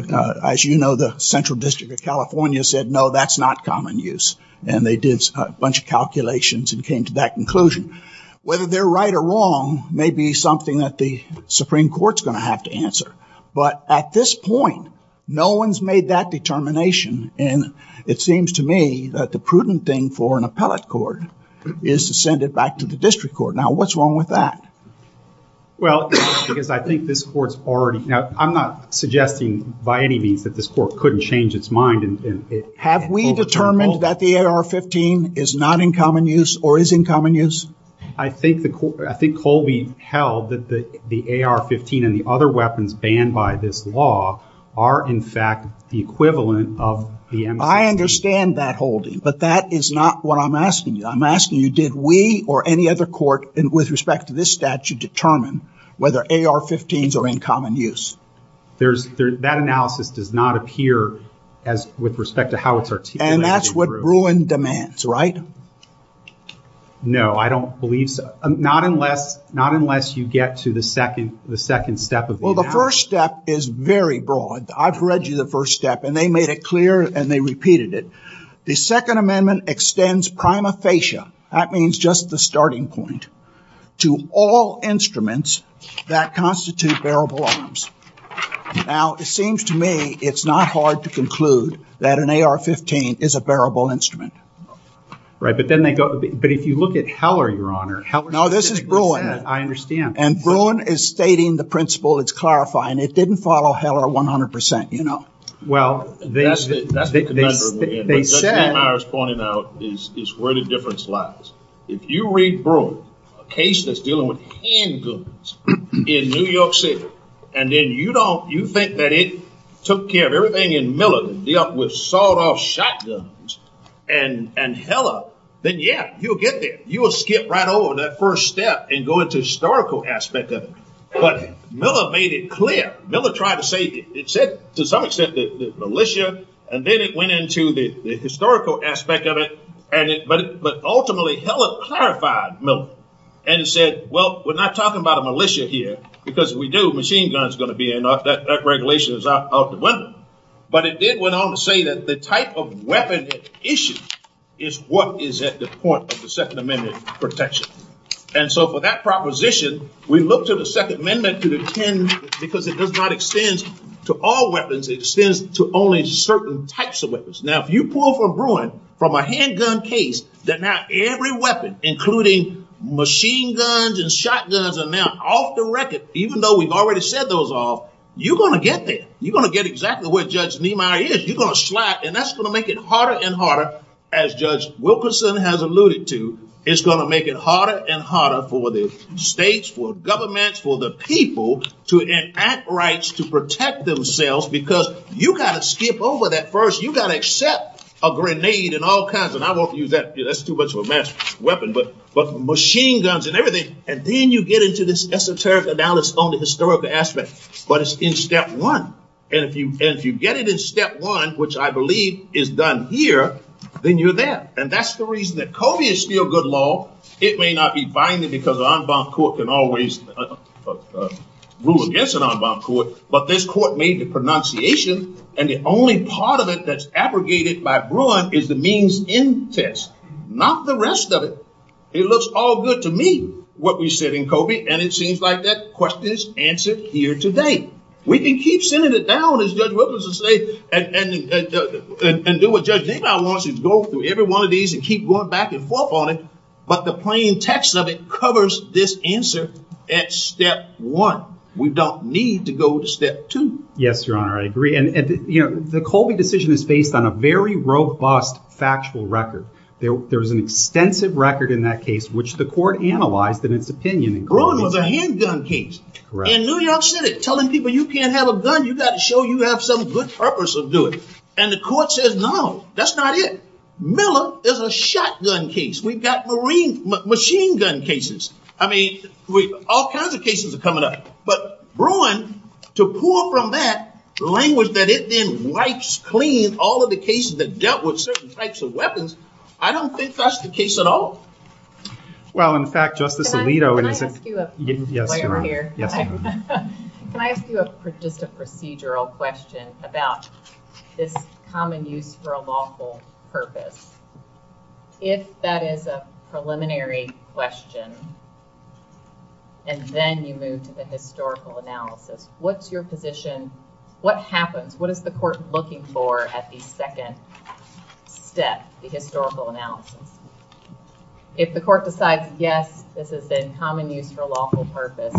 as you know, the Central District of California said, no, that's not common use. And they did a bunch of calculations and came to that conclusion. Whether they're right or wrong may be something that the Supreme Court's going to have to answer. But at this point, no one's made that determination. And it seems to me that the prudent thing for an appellate court is to send it back to the district court. Now, what's wrong with that? Well, I think this court's already. I'm not suggesting by any means that this court couldn't change its mind. Have we determined that the AR-15 is not in common use or is in common use? I think Colby held that the AR-15 and the other weapons banned by this law are, in fact, the equivalent of the. I understand that, Holden. But that is not what I'm asking you. I'm asking you, did we or any other court with respect to this statute determine whether AR-15s are in common use? That analysis does not appear as with respect to how it's articulated. And that's what Bruin demands, right? No, I don't believe so. Not unless you get to the second step. Well, the first step is very broad. I've read you the first step and they made it clear and they repeated it. The Second Amendment extends prima facie, that means just the starting point, to all instruments that constitute bearable arms. Now, it seems to me it's not hard to conclude that an AR-15 is a bearable instrument. Right, but then they go, but if you look at Heller, Your Honor. No, this is Bruin. I understand. And Bruin is stating the principle, it's clarifying. It didn't follow Heller 100%, you know. Well, that's it. That's the conundrum we're in. What Justice Myers pointed out is where the difference lies. If you read Bruin, a case that's dealing with handguns in New York City, and then you think that it took care of everything in Millard and dealt with sawed-off shotguns and Heller, then yeah, you'll get there. You will skip right over that first step and go into the historical aspect of it. But Millard made it clear. Millard tried to save it. It said the militia, and then it went into the historical aspect of it. But ultimately, Heller clarified Millard and said, well, we're not talking about a militia here because if we do, machine guns are going to be in there. That regulation is out of the window. But it did go on to say that the type of weapon issue is what is at the point of the Second Amendment protection. And so for that proposition, we look to the Second Amendment because it does not extend to all weapons. It extends to only certain types of weapons. Now, if you pull from Bruin, from a handgun case, that now every weapon, including machine guns and shotguns are now off the record, even though we've already said those all, you're going to get there. You're going to get exactly where Judge Niemeyer is. You're going to slap, and that's going to make it harder and harder. But as Judge Wilkerson has alluded to, it's going to make it harder and harder for the states, for governments, for the people to enact rights to protect themselves because you've got to skip over that first. You've got to accept a grenade and all kinds of – and I won't use that. That's too much of a mass weapon. But machine guns and everything, and then you get into this esoteric analysis on the historical aspect. But it's in step one. And if you get it in step one, which I believe is done here, then you're there. And that's the reason that Coby is still good law. It may not be binding because an unbound court can always rule against an unbound court, but this court made the pronunciation, and the only part of it that's abrogated by Bruin is the means in test, not the rest of it. It looks all good to me, what we said in Coby, and it seems like that question is answered here today. We can keep sending it down, as Judge Wilkerson says, and do what Judge Hickau wants us to do, go through every one of these and keep going back and forth on it, but the plain text of it covers this answer at step one. We don't need to go to step two. Yes, Your Honor, I agree. And, you know, the Coby decision is based on a very robust factual record. There's an extensive record in that case which the court analyzed in its opinion. Bruin was a handgun case. In New York City, telling people you can't have a gun, you've got to show you have some good purpose of doing it. And the court said, no, that's not it. Miller is a shotgun case. We've got machine gun cases. I mean, all kinds of cases are coming up, but Bruin, to pull from that language that it then wipes clean all of the cases that dealt with certain types of weapons, I don't think that's the case at all. Well, in fact, Justice Alito... Can I ask you a procedural question about this common use for a lawful purpose? If that is a preliminary question, and then you move to the historical analysis, what's your position, what happens, what is the court looking for at the second step, the historical analysis? If the court decides, yes, this has been common use for a lawful purpose,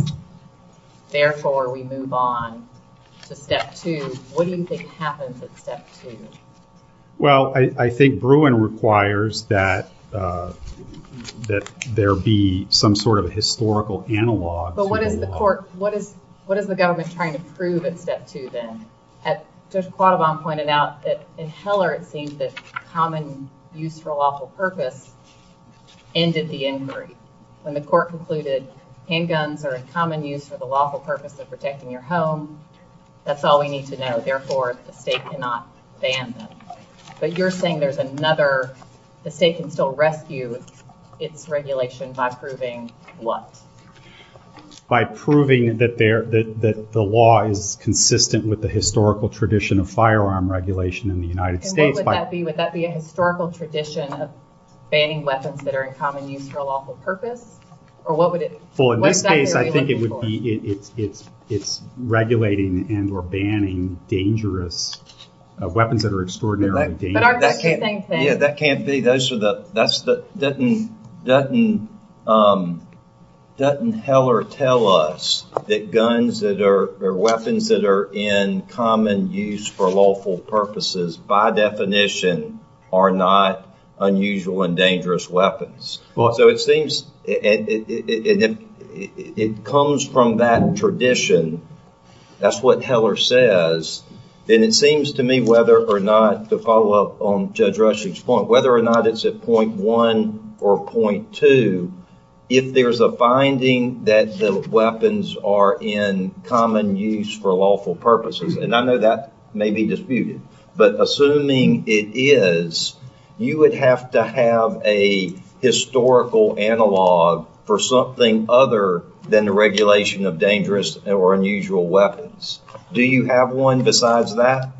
therefore we move on to step two, what do you think happens at step two? Well, I think Bruin requires that there be some sort of a historical analog. But what is the court, what is the government trying to prove at step two then? Justice Quaddabond pointed out that in Heller it seems that common use for a lawful purpose ended the inquiry. When the court concluded handguns are a common use for the lawful purpose of protecting your home, that's all we need to know. Therefore, the state cannot ban them. But you're saying there's another, the state can still rescue its regulation by proving what? By proving that the law is consistent with the historical tradition of firearm regulation in the United States. And what would that be? Would that be a historical tradition of banning weapons that are in common use for a lawful purpose? Well, in that case, I think it would be it's regulating and or banning dangerous weapons that are extraordinarily dangerous. Yeah, that can't be. Doesn't Heller tell us that guns that are, or weapons that are in common use for lawful purposes, by definition, are not unusual and dangerous weapons? Well, so it seems, it comes from that tradition. That's what Heller says. And it seems to me whether or not, to follow up on Judge Rushing's point, whether or not it's at point one or point two, if there's a finding that the weapons are in common use for lawful purposes, and I know that may be disputed, but assuming it is, you would have to have a historical analog for something other than the regulation of dangerous or unusual weapons. Do you have one besides that?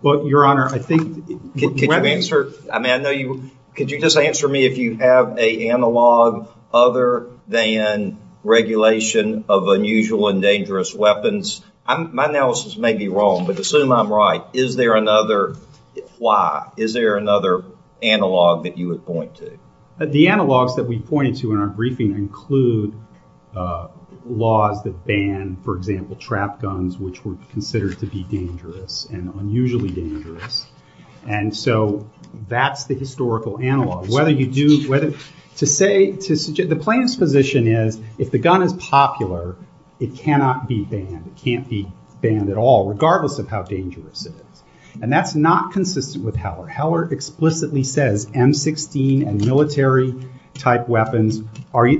Well, Your Honor, I think... Can you answer, I mean, I know you, could you just answer me if you have an analog other than regulation of unusual and dangerous weapons? My analysis may be wrong, but as soon as I'm right, is there another, why, is there another analog that you would point to? The analogs that we pointed to in our briefing include laws that ban, for example, trap guns, which were considered to be dangerous and unusually dangerous. And so that's the historical analog. The plaintiff's position is if the gun is popular, it cannot be banned. It can't be banned at all, regardless of how dangerous it is. And that's not consistent with Heller. Heller explicitly says M-16 and military-type weapons,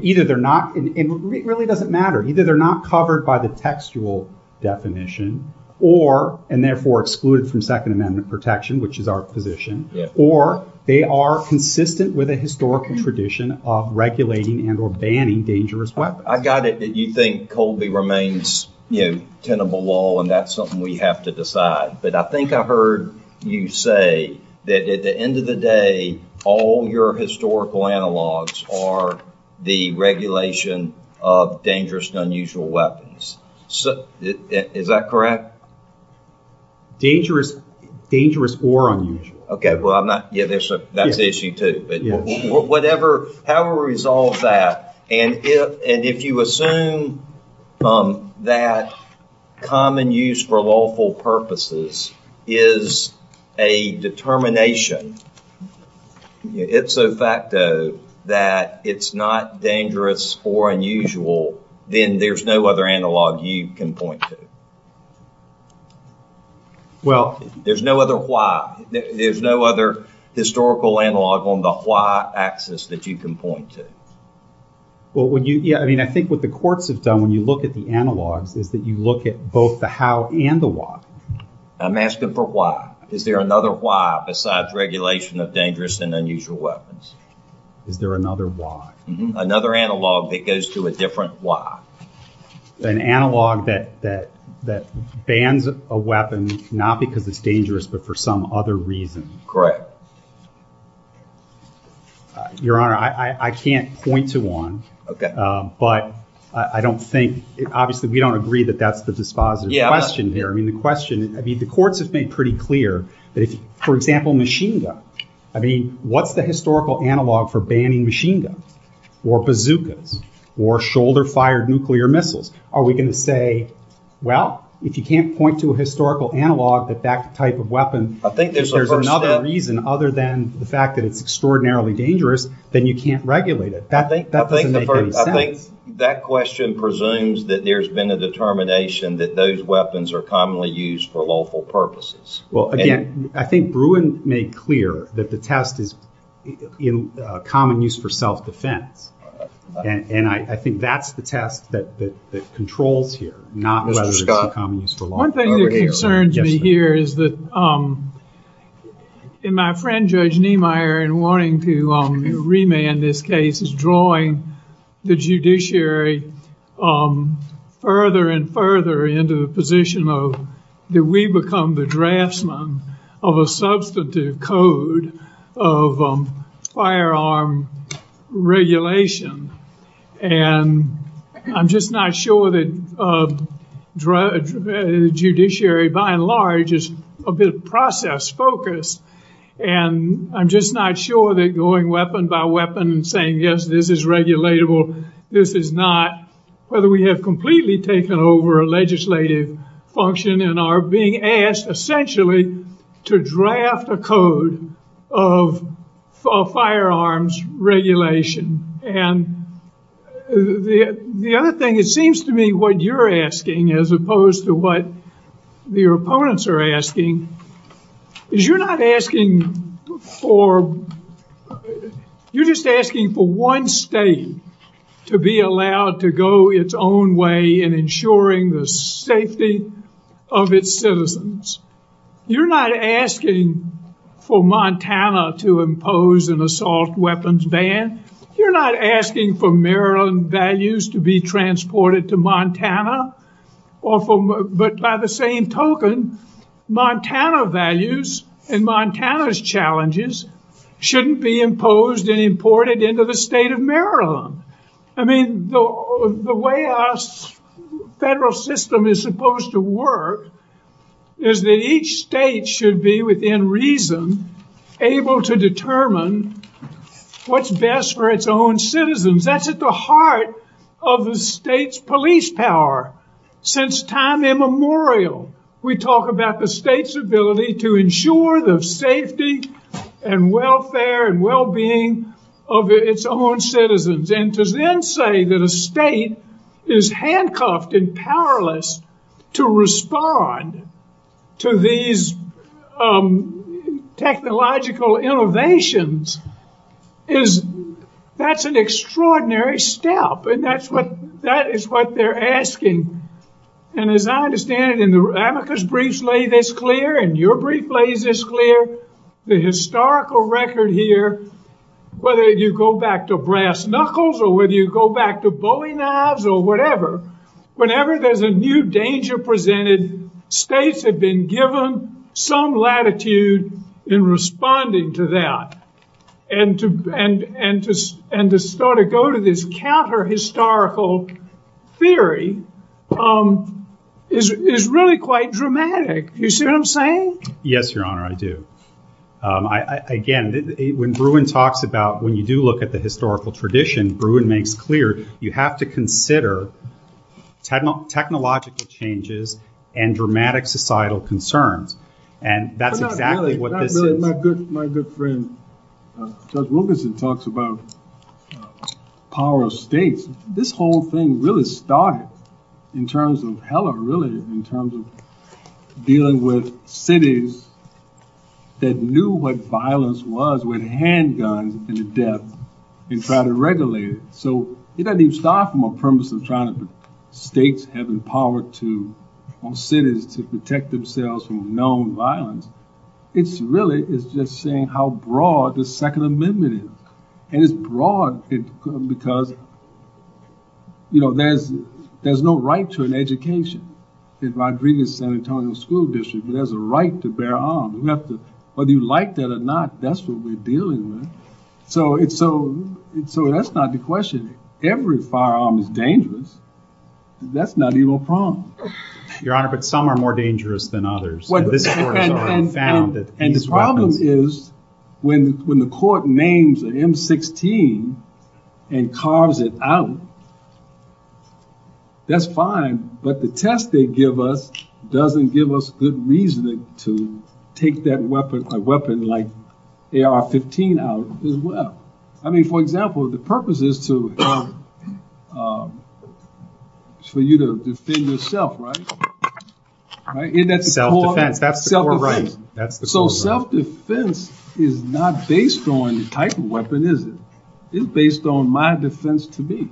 either they're not, and it really doesn't matter, either they're not covered by the textual definition or, and therefore excluded from Second Amendment protection, which is our position, or they are consistent with a historic tradition of regulating and or banning dangerous weapons. I got it that you think Colby remains, you know, tenable law, and that's something we have to decide. But I think I heard you say that at the end of the day, all your historical analogs are the regulation of dangerous and unusual weapons. Is that correct? Dangerous or unusual. Okay, well, I'm not, yeah, that's an issue, too. Whatever, however we resolve that, and if you assume that common use for lawful purposes is a determination, it's a fact, though, that it's not dangerous or unusual, then there's no other analog you can point to. Well, there's no other why. There's no other historical analog on the why axis that you can point to. Well, would you, yeah, I mean, I think what the courts have done when you look at the analogs is that you look at both the how and the why. I'm asking for why. Is there another why besides regulation of dangerous and unusual weapons? Is there another why? Another analog that goes to a different why. An analog that bans a weapon not because it's dangerous but for some other reason. Correct. Your Honor, I can't point to one. Okay. But I don't think, obviously, we don't agree that that's the dispositive question here. Yeah. I mean, the question, I mean, the courts have been pretty clear that if, for example, machine guns. I mean, what's the historical analog for banning machine guns or bazookas or shoulder-fired nuclear missiles? Are we going to say, well, if you can't point to a historical analog that that type of weapon, if there's another reason other than the fact that it's extraordinarily dangerous, then you can't regulate it. I think that question presumes that there's been a determination that those weapons are commonly used for lawful purposes. Well, again, I think Bruin made clear that the test is in common use for self-defense. And I think that's the test that controls here, not whether it's for common use for lawful purposes. One thing that concerns me here is that my friend, Judge Niemeyer, in wanting to remand this case, is drawing the judiciary further and further into the position of, did we become the draftsman of a substantive code of firearm regulation? And I'm just not sure that the judiciary by and large is a bit process-focused. And I'm just not sure that going weapon by weapon and saying, yes, this is regulatable, this is not, whether we have completely taken over a legislative function and are being asked essentially to draft a code of firearms regulation. And the other thing, it seems to me what you're asking, as opposed to what your opponents are asking, is you're not asking for, you're just asking for one state to be allowed to go its own way in ensuring the safety of its citizens. You're not asking for Montana to impose an assault weapons ban. You're not asking for Maryland values to be transported to Montana. But by the same token, Montana values and Montana's challenges shouldn't be imposed and imported into the state of Maryland. I mean, the way our federal system is supposed to work is that each state should be, within reason, able to determine what's best for its own citizens. That's at the heart of the state's police power. Since time immemorial, we talk about the state's ability to ensure the safety and welfare and well-being of its own citizens. And to then say that a state is handcuffed and powerless to respond to these technological innovations, that's an extraordinary step. And that is what they're asking. And as I understand it, and America's briefs lay this clear and your brief lays this clear, the historical record here, whether you go back to brass knuckles or whether you go back to bully knives or whatever, whenever there's a new danger presented, states have been given some latitude in responding to that. And to sort of go to this counter-historical theory is really quite dramatic. You see what I'm saying? Yes, Your Honor, I do. Again, when Bruin talks about when you do look at the historical tradition, Bruin makes clear you have to consider technological changes and dramatic societal concerns. And that's exactly what this is. My good friend Judge Wilkinson talks about power of states. This whole thing really started in terms of dealing with cities that knew what violence was with handguns and death and tried to regulate it. So, it doesn't even start from a premise of trying to states having power on cities to protect themselves from known violence. It's really, it's just saying how broad the Second Amendment is. And it's broad because there's no right to an education in Rodriguez-San Antonio School District. There's a right to bear arms. Whether you like that or not, that's what we're dealing with. So, that's not the question. Every firearm is dangerous. That's not even a problem. Your Honor, but some are more dangerous than others. And the problem is when the court names an M16 and carves it out, that's fine. But the test they give us doesn't give us good reason to take that weapon like AR-15 out as well. I mean, for example, the purpose is to, for you to defend yourself, right? That's the core right. So, self-defense is not based on the type of weapon, is it? It's based on my defense to me.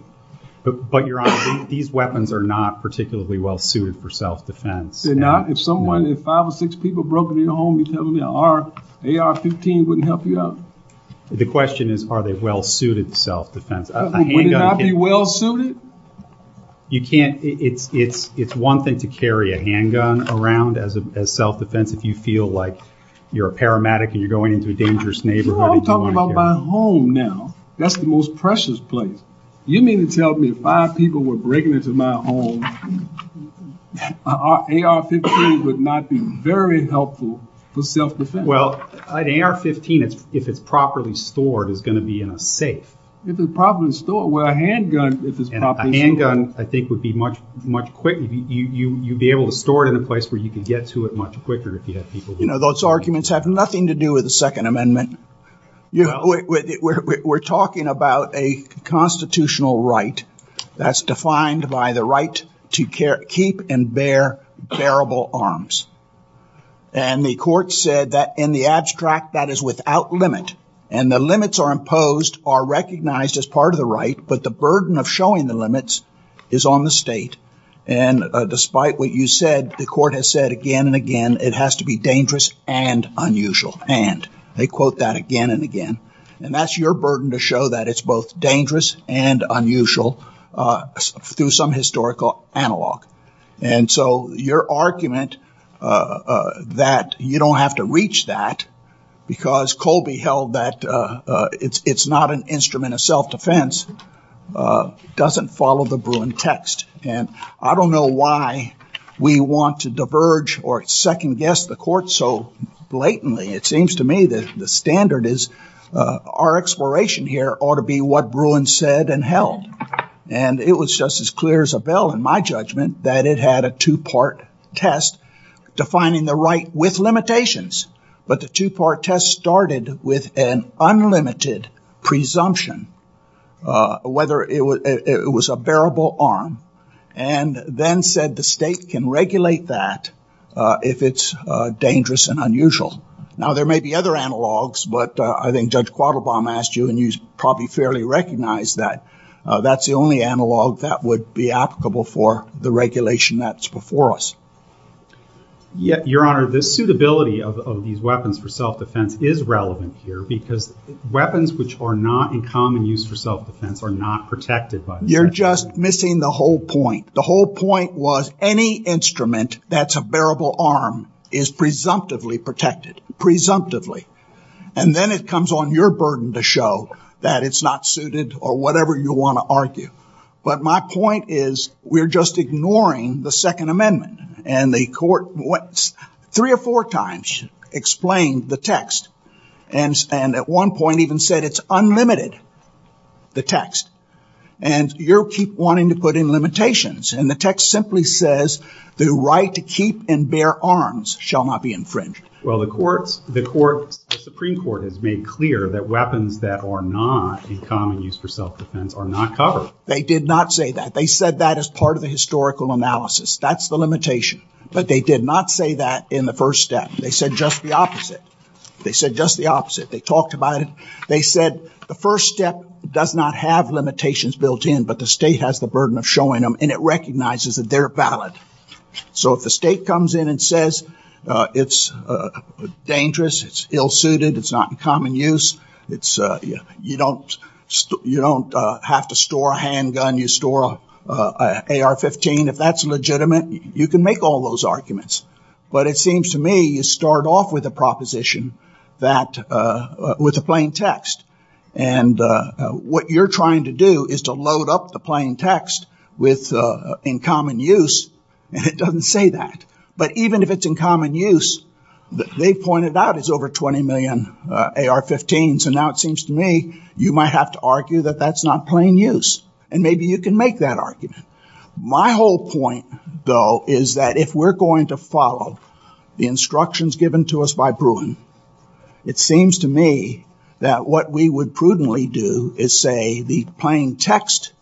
But, Your Honor, these weapons are not particularly well-suited for self-defense. They're not? If someone, if five or six people broke into your home and you tell them they're an AR-15, they wouldn't help you out? The question is are they well-suited for self-defense. Are they well-suited? You can't, it's one thing to carry a handgun around as self-defense if you feel like you're a paramedic and you're going into a dangerous neighborhood. I'm talking about my home now. That's the most precious place. You mean to tell me if five people were breaking into my home, an AR-15 would not be very helpful for self-defense? Well, an AR-15, if it's properly stored, is going to be in a safe. If it's properly stored. Well, a handgun, if it's properly stored. A handgun, I think, would be much quicker. You'd be able to store it in a place where you could get to it much quicker if you had people. You know, those arguments have nothing to do with the Second Amendment. You know, we're talking about a constitutional right that's defined by the right to keep and bear terrible arms. And the court said that in the abstract that is without limit. And the limits are imposed, are recognized as part of the right, but the burden of showing the limits is on the state. And despite what you said, the court has said again and again it has to be dangerous and unusual. And they quote that again and again. And that's your burden to show that it's both dangerous and unusual through some historical analog. And so your argument that you don't have to reach that because Colby held that it's not an instrument of self-defense doesn't follow the Bruin text. And I don't know why we want to diverge or second-guess the court so blatantly. It seems to me that the standard is our exploration here ought to be what Bruin said and held. And it was just as clear as a bell in my judgment that it had a two-part test defining the right with limitations. But the two-part test started with an unlimited presumption whether it was a bearable arm. And then said the state can regulate that if it's dangerous and unusual. Now, there may be other analogs, but I think Judge Quattlebaum asked you and you probably fairly recognized that. That's the only analog that would be applicable for the regulation that's before us. Your Honor, the suitability of these weapons for self-defense is relevant here because weapons which are not in common use for self-defense are not protected by that. You're just missing the whole point. The whole point was any instrument that's a bearable arm is presumptively protected. Presumptively. And then it comes on your burden to show that it's not suited or whatever you want to argue. But my point is we're just ignoring the Second Amendment. And the court three or four times explained the text. And at one point even said it's unlimited, the text. And you keep wanting to put in limitations. And the text simply says the right to keep and bear arms shall not be infringed. Well, the Supreme Court has made clear that weapons that are not in common use for self-defense are not covered. They did not say that. They said that as part of the historical analysis. That's the limitation. But they did not say that in the first step. They said just the opposite. They said just the opposite. They talked about it. They said the first step does not have limitations built in, but the state has the burden of showing them. And it recognizes that they're valid. So if the state comes in and says it's dangerous, it's ill suited, it's not in common use, you don't have to store a handgun, you store an AR-15, if that's legitimate, you can make all those arguments. But it seems to me you start off with a proposition that with a plain text. And what you're trying to do is to load up the plain text with in common use. And it doesn't say that. But even if it's in common use, they pointed out it's over 20 million AR-15s. And now it seems to me you might have to argue that that's not plain use. And maybe you can make that argument. My whole point, though, is that if we're going to follow the instructions given to us by Bruin, it seems to me that what we would prudently do is say the plain text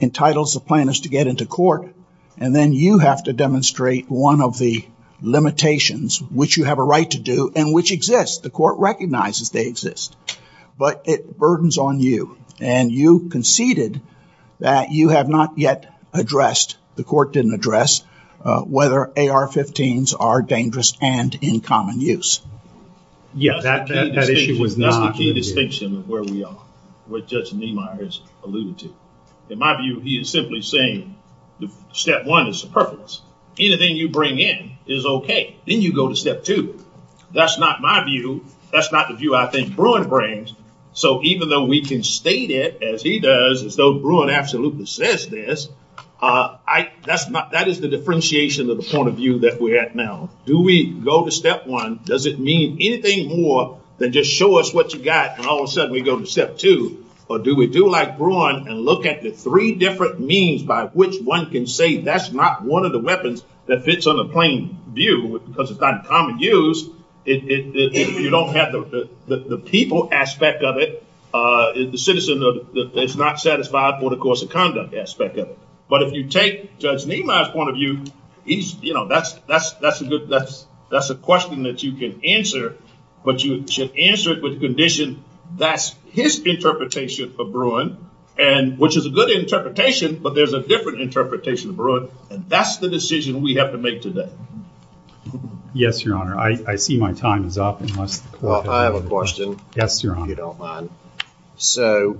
entitles the plaintiffs to get into court. And then you have to demonstrate one of the limitations which you have a right to do and which exists. The court recognizes they exist. But it burdens on you. And you conceded that you have not yet addressed, the court didn't address, whether AR-15s are dangerous and in common use. Yes. That issue would be a distinction of where we are, what Judge Niemeyer has alluded to. In my view, he is simply saying step one is superfluous. Anything you bring in is okay. Then you go to step two. That's not my view. That's not the view I think Bruin brings. So even though we can state it as he does, as though Bruin absolutely says this, that is the differentiation of the point of view that we have now. Do we go to step one? Does it mean anything more than just show us what you got and all of a sudden we go to step two? Or do we do like Bruin and look at the three different means by which one can say that's not one of the weapons that fits on the plain view because it's not in common use? If you don't have the people aspect of it, the citizen, it's not satisfied for the course of conduct aspect of it. But if you take Judge Niemeyer's point of view, that's a question that you can answer, but you should answer it with the condition that's his interpretation of Bruin, which is a good interpretation, but there's a different interpretation of Bruin, and that's the decision we have to make today. Yes, Your Honor. I see my time is up. I have a question. Yes, Your Honor. If you don't mind. So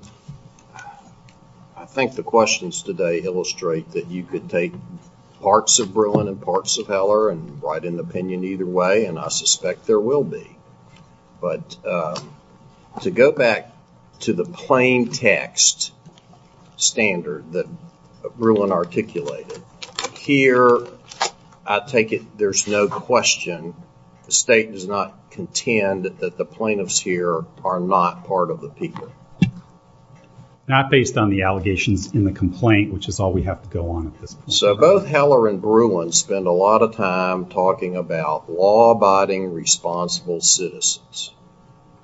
I think the questions today illustrate that you could take parts of Bruin and parts of Heller and write an opinion either way, and I suspect there will be. But to go back to the plain text standard that Bruin articulated, here I take it there's no question. The state does not contend that the plaintiffs here are not part of the people. Not based on the allegations in the complaint, which is all we have to go on. So both Heller and Bruin spend a lot of time talking about law-abiding, responsible citizens.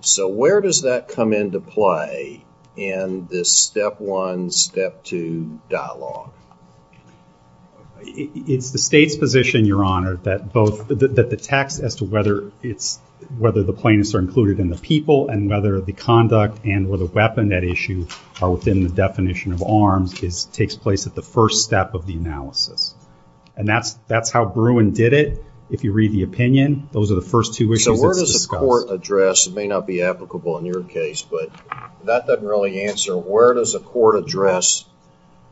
So where does that come into play in this step one, step two dialogue? It's the state's position, Your Honor, that the text as to whether the plaintiffs are included in the people and whether the conduct and or the weapon at issue are within the definition of arms takes place at the first step of the analysis. And that's how Bruin did it. If you read the opinion, those are the first two issues. It may not be applicable in your case, but that doesn't really answer where does a court address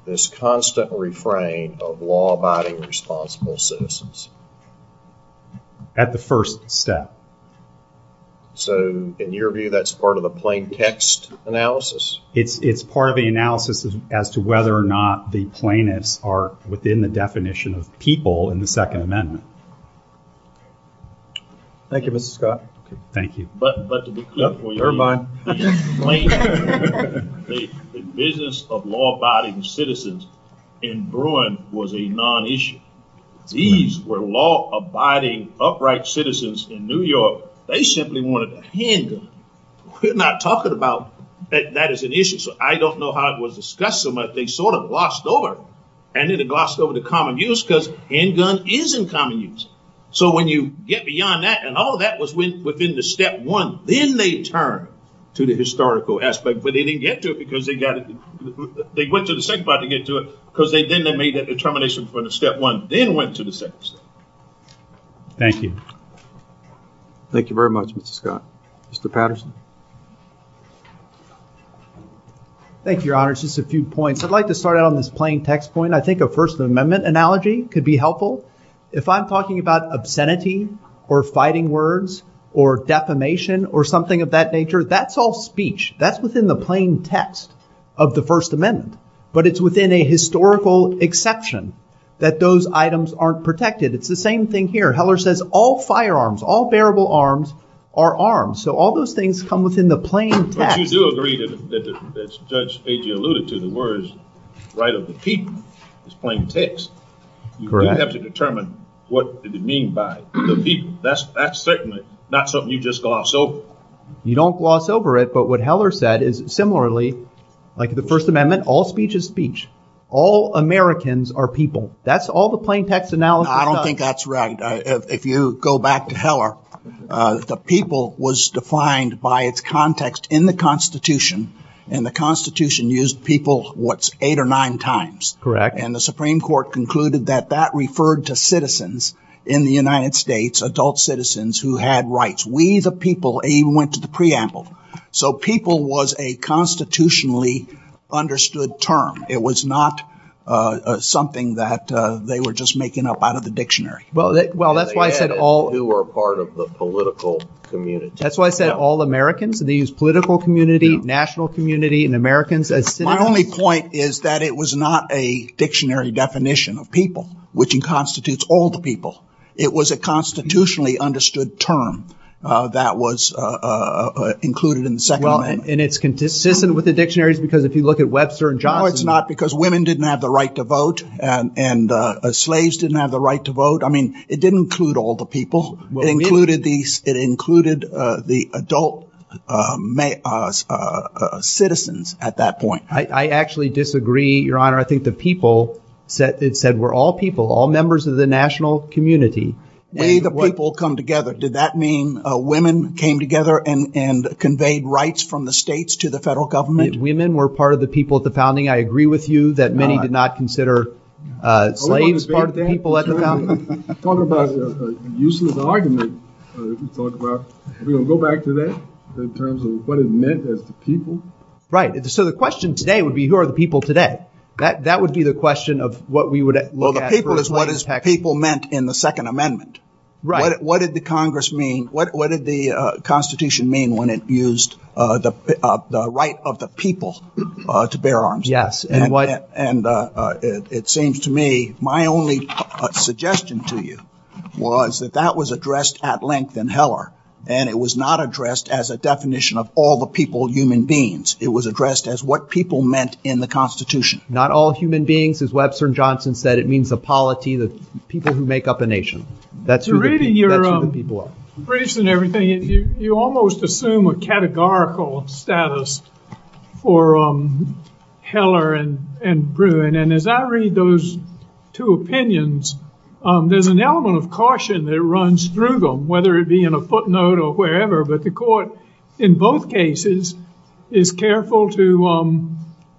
this constant refrain of law-abiding, responsible citizens? So in your view, that's part of the plain text analysis? It's part of the analysis as to whether or not the plaintiffs are within the definition of people in the Second Amendment. Thank you, Scott. Thank you. The business of law-abiding citizens in Bruin was a non-issue. These were law-abiding, upright citizens in New York. They simply wanted a handgun. We're not talking about that as an issue. So I don't know how it was discussed, but they sort of glossed over it. And they glossed over the common use because handgun is in common use. So when you get beyond that and all of that was within the step one, then they turn to the historical aspect. But they didn't get to it because they got it. They went to the second part to get to it because they didn't make the determination for the step one. Then went to the second step. Thank you. Thank you very much, Mr. Scott. Mr. Patterson. Thank you, Your Honor. Just a few points. I'd like to start out on this plain text point. I think a First Amendment analogy could be helpful. If I'm talking about obscenity or fighting words or defamation or something of that nature, that's all speech. That's within the plain text of the First Amendment. But it's within a historical exception that those items aren't protected. It's the same thing here. Heller says all firearms, all bearable arms are arms. So all those things come within the plain text. But if you do agree that Judge Agee alluded to the words right of the people, it's plain text. You do have to determine what it would mean by the people. That's certainly not something you just gloss over. You don't gloss over it. But what Heller said is similarly, like the First Amendment, all speech is speech. All Americans are people. That's all the plain text analogy. I don't think that's right. If you go back to Heller, the people was defined by its context in the Constitution. And the Constitution used people what's eight or nine times. Correct. And the Supreme Court concluded that that referred to citizens in the United States, adult citizens who had rights. We the people. And you went to the preamble. So people was a constitutionally understood term. It was not something that they were just making up out of the dictionary. Well, that's why I said all. They were part of the political community. That's why I said all Americans. They used political community, national community, and Americans as citizens. My only point is that it was not a dictionary definition of people, which constitutes all the people. It was a constitutionally understood term that was included in the Second Amendment. Well, and it's consistent with the dictionaries because if you look at Webster and Johnson. No, it's not because women didn't have the right to vote and slaves didn't have the right to vote. I mean, it didn't include all the people included these. It included the adult citizens at that point. I actually disagree, Your Honor. I think the people that it said were all people, all members of the national community. Many of the people come together. Did that mean women came together and conveyed rights from the states to the federal government? Women were part of the people at the founding. I agree with you that many did not consider slaves part of the people at the founding. Right. So the question today would be who are the people today? That would be the question of what we would look at. People meant in the Second Amendment. Right. What did the Congress mean? What did the Constitution mean when it used the right of the people to bear arms? Yes. And it seems to me my only suggestion to you was that that was addressed at length in Heller. And it was not addressed as a definition of all the people, human beings. It was addressed as what people meant in the Constitution. Not all human beings, as Webster and Johnson said. It means the polity, the people who make up a nation. That's who the people are. Reading your briefs and everything, you almost assume a categorical status for Heller and Bruin. And as I read those two opinions, there's an element of caution that runs through them, whether it be in a footnote or wherever. But the court in both cases is careful to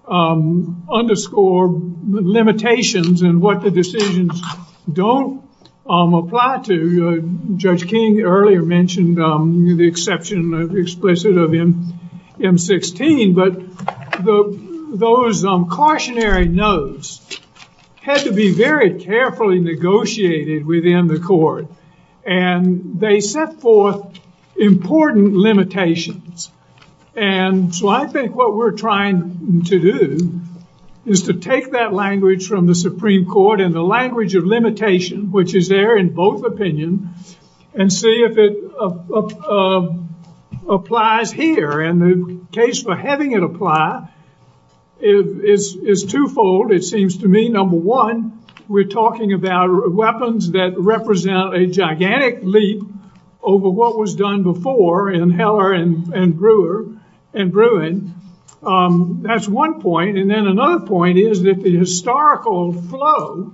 underscore the limitations and what the decisions don't apply to. Judge King earlier mentioned the exception of the explicit of M-16. But those cautionary notes had to be very carefully negotiated within the court. And they set forth important limitations. And so I think what we're trying to do is to take that language from the Supreme Court and the language of limitation, which is there in both opinions, and see if it applies here. And the case for having it apply is twofold, it seems to me. Number one, we're talking about weapons that represent a gigantic leap over what was done before in Heller and Bruin. That's one point. And then another point is that the historical flow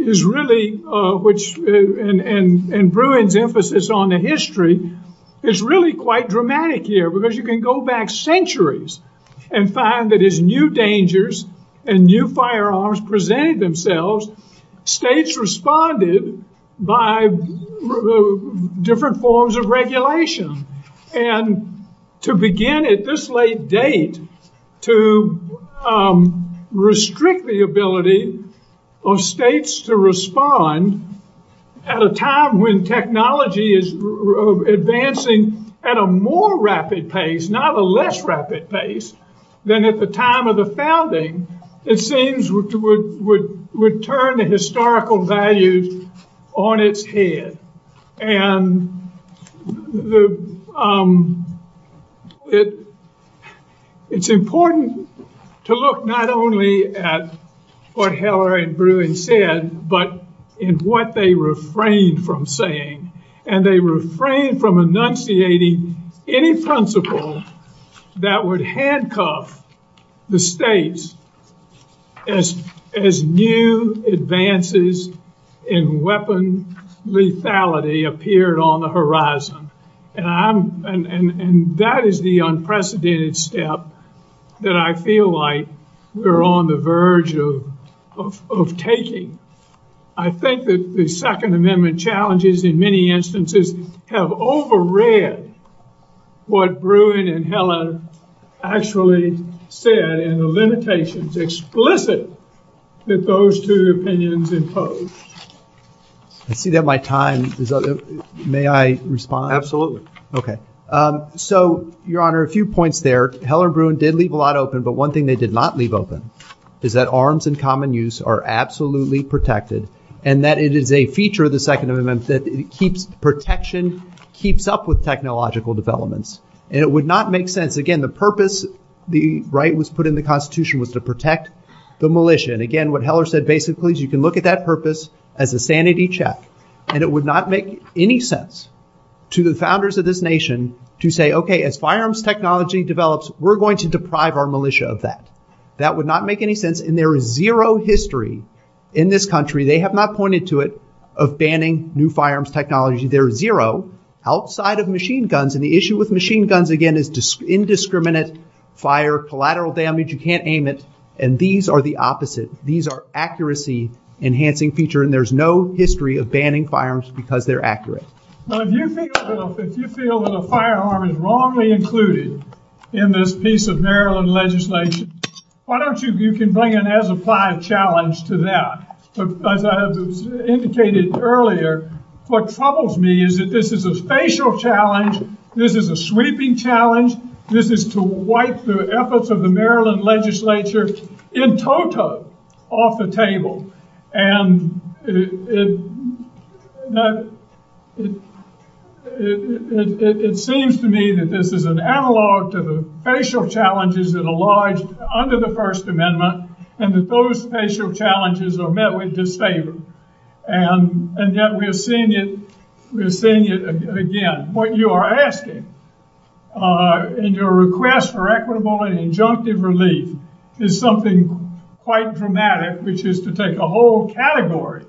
is really, and Bruin's emphasis on the history, is really quite dramatic here. Because you can go back centuries and find that as new dangers and new firearms presented themselves, states responded by different forms of regulation. And to begin at this late date to restrict the ability of states to respond at a time when technology is advancing at a more rapid pace, not a less rapid pace, than at the time of the founding, it seems would turn the historical values on its head. And it's important to look not only at what Heller and Bruin said, but in what they refrained from saying. And they refrained from enunciating any principle that would handcuff the states as new advances in weapon lethality appeared on the horizon. And that is the unprecedented step that I feel like we're on the verge of taking. I think that the Second Amendment challenges in many instances have overread what Bruin and Heller actually said and the limitations explicit that those two opinions impose. I see that my time is up. May I respond? Absolutely. Okay. So, Your Honor, a few points there. Heller and Bruin did leave a lot open, but one thing they did not leave open is that arms in common use are absolutely protected. And that it is a feature of the Second Amendment that protection keeps up with technological developments. And it would not make sense, again, the purpose the right was put in the Constitution was to protect the militia. And again, what Heller said basically is you can look at that purpose as a sanity check. And it would not make any sense to the founders of this nation to say, okay, as firearms technology develops, we're going to deprive our militia of that. That would not make any sense. And there is zero history in this country, they have not pointed to it, of banning new firearms technology. There is zero outside of machine guns. And the issue with machine guns, again, is indiscriminate fire, collateral damage, you can't aim it. And these are the opposite. These are accuracy enhancing features and there's no history of banning firearms because they're accurate. If you feel that a firearm is wrongly included in this piece of Maryland legislation, why don't you bring an as-applied challenge to that? As I indicated earlier, what troubles me is that this is a spatial challenge, this is a sweeping challenge, this is to wipe the efforts of the Maryland legislature in total. Off the table. And it seems to me that this is an analog to the spatial challenges that arise under the First Amendment and that those spatial challenges are met with disfavor. And yet we're seeing it again. What you are asking in your request for equitable and injunctive relief is something quite dramatic, which is to take a whole category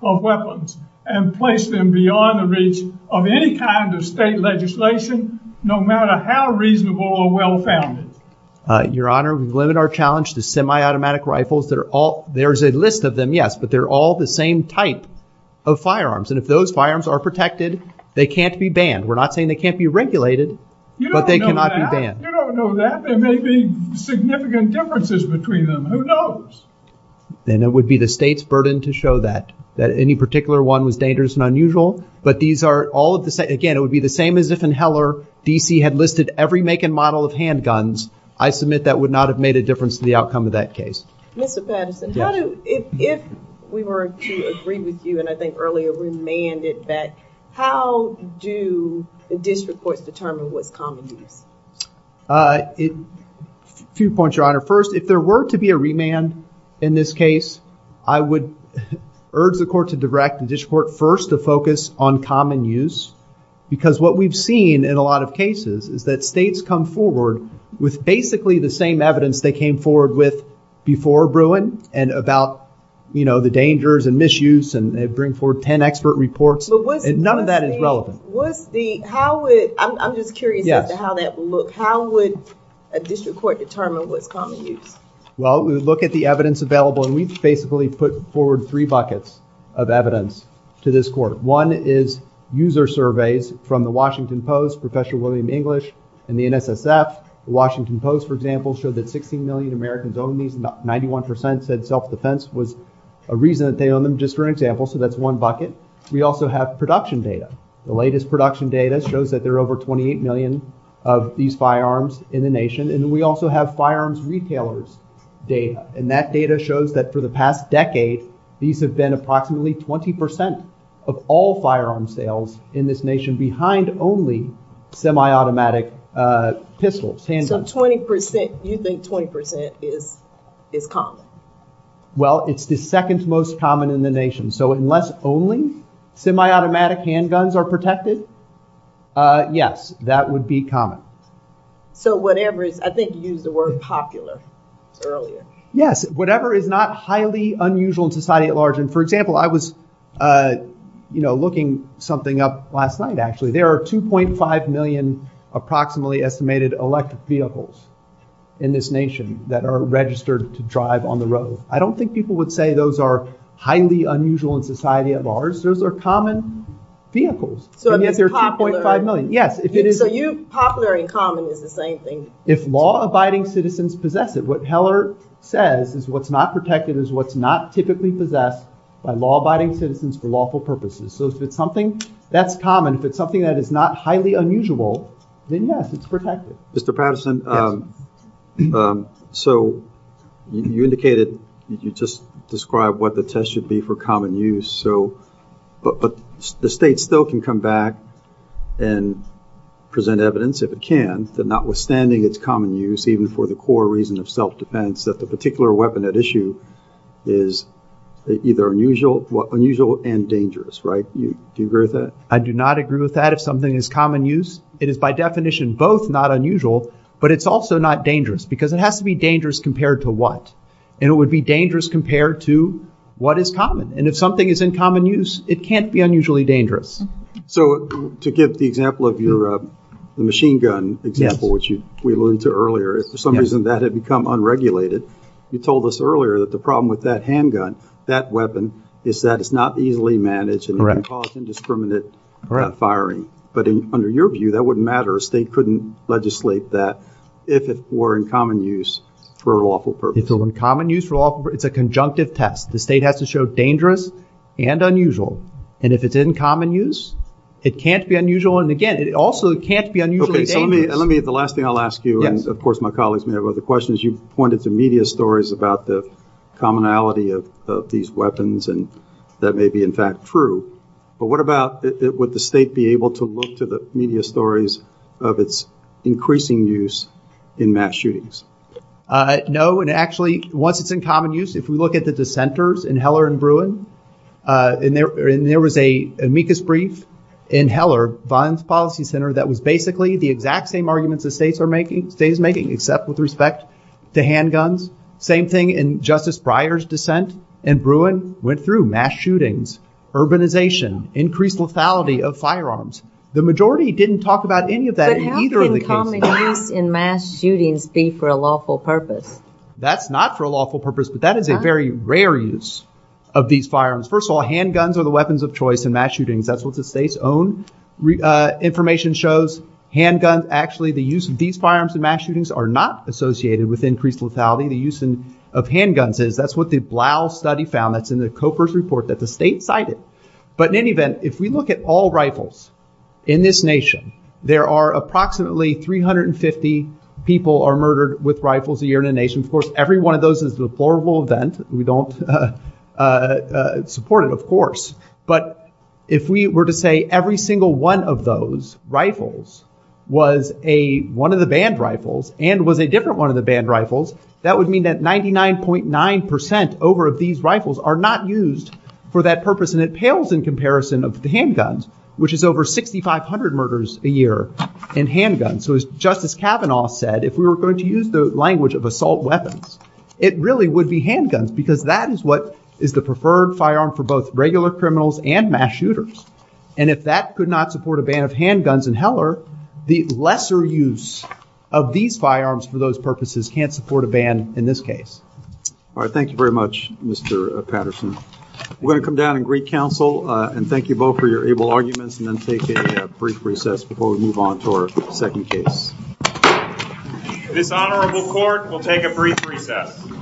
of weapons and place them beyond the reach of any kind of state legislation, no matter how reasonable or well-founded. Your Honor, we've limited our challenge to semi-automatic rifles. There's a list of them, yes, but they're all the same type of firearms. And if those firearms are protected, they can't be banned. We're not saying they can't be regulated, but they cannot be banned. You don't know that. There may be significant differences between them. Who knows? And it would be the state's burden to show that, that any particular one was dangerous and unusual. But these are all of the same. Again, it would be the same as if in Heller, D.C. had listed every make and model of handguns. I submit that would not have made a difference to the outcome of that case. Mr. Patterson, if we were to agree with you, and I think earlier remanded that, how do the district courts determine what's common use? Two points, Your Honor. First, if there were to be a remand in this case, I would urge the court to direct the district court first to focus on common use. Because what we've seen in a lot of cases is that states come forward with basically the same evidence they came forward with before Bruin and about, you know, the dangers and misuse and bring forward 10 expert reports. And none of that is relevant. I'm just curious as to how that would look. How would a district court determine what common use is? Well, we would look at the evidence available, and we basically put forward three buckets of evidence to this court. One is user surveys from the Washington Post, Professor William English, and the NSSF. The Washington Post, for example, showed that 16 million Americans own these. Ninety-one percent said self-defense was a reason that they own them, just for example. So that's one bucket. We also have production data. The latest production data shows that there are over 28 million of these firearms in the nation. And we also have firearms retailers' data. And that data shows that for the past decade, these have been approximately 20 percent of all firearms sales in this nation behind only semi-automatic pistols, handguns. So 20 percent, you think 20 percent is common? Well, it's the second most common in the nation. So unless only semi-automatic handguns are protected, yes, that would be common. So whatever is, I think you used the word popular earlier. Yes, whatever is not highly unusual in society at large. And, for example, I was, you know, looking something up last night, actually. There are 2.5 million approximately estimated electric vehicles in this nation that are registered to drive on the road. I don't think people would say those are highly unusual in society at large. Those are common vehicles. And yet there are 2.5 million. So popular and common is the same thing. If law-abiding citizens possess it, what Heller says is what's not protected is what's not typically possessed by law-abiding citizens for lawful purposes. So if it's something that's common, if it's something that is not highly unusual, then yes, it's protected. Mr. Patterson, so you indicated, you just described what the test should be for common use. But the state still can come back and present evidence, if it can, that notwithstanding its common use, even for the core reason of self-defense, that the particular weapon at issue is either unusual and dangerous, right? Do you agree with that? I do not agree with that. If something is common use, it is by definition both not unusual, but it's also not dangerous. Because it has to be dangerous compared to what? And it would be dangerous compared to what is common. And if something is in common use, it can't be unusually dangerous. So to give the example of your machine gun example, which we alluded to earlier, if for some reason that had become unregulated, you told us earlier that the problem with that handgun, that weapon, is that it's not easily managed and can cause indiscriminate firing. But under your view, that wouldn't matter. A state couldn't legislate that if it were in common use for lawful purposes. It's in common use for lawful purposes. It's a conjunctive test. The state has to show dangerous and unusual. And if it's in common use, it can't be unusual. And again, it also can't be unusually dangerous. Let me, the last thing I'll ask you, and of course my colleagues may have other questions, you pointed to media stories about the commonality of these weapons and that may be in fact true. But what about, would the state be able to look to the media stories of its increasing use in mass shootings? No, and actually, once it's in common use, if we look at the dissenters in Heller and Bruin, and there was an amicus brief in Heller, Bond's Policy Center, that was basically the exact same arguments the states are making, states making, except with respect to handguns. Same thing in Justice Breyer's dissent in Bruin, went through mass shootings, urbanization, increased lethality of firearms. The majority didn't talk about any of that in either of the cases. How can the use in mass shootings be for a lawful purpose? That's not for a lawful purpose, but that is a very rare use of these firearms. First of all, handguns are the weapons of choice in mass shootings. That's what the state's own information shows. Handguns, actually, the use of these firearms in mass shootings are not associated with increased lethality. The use of handguns is. That's what the Blau study found. That's in the COFRS report that the state cited. But in any event, if we look at all rifles in this nation, there are approximately 350 people are murdered with rifles a year in the nation. Of course, every one of those is a horrible event. We don't support it, of course. But if we were to say every single one of those rifles was one of the banned rifles and was a different one of the banned rifles, that would mean that 99.9 percent over of these rifles are not used for that purpose. And it pales in comparison of the handguns, which is over 6,500 murders a year in handguns. So, as Justice Kavanaugh said, if we were going to use the language of assault weapons, it really would be handguns because that is what is the preferred firearm for both regular criminals and mass shooters. And if that could not support a ban of handguns in Heller, the lesser use of these firearms for those purposes can't support a ban in this case. All right. Thanks very much, Mr. Patterson. We're going to come down and greet counsel and thank you both for your able arguments and then take a brief recess before we move on to our second case. This honorable court will take a brief recess.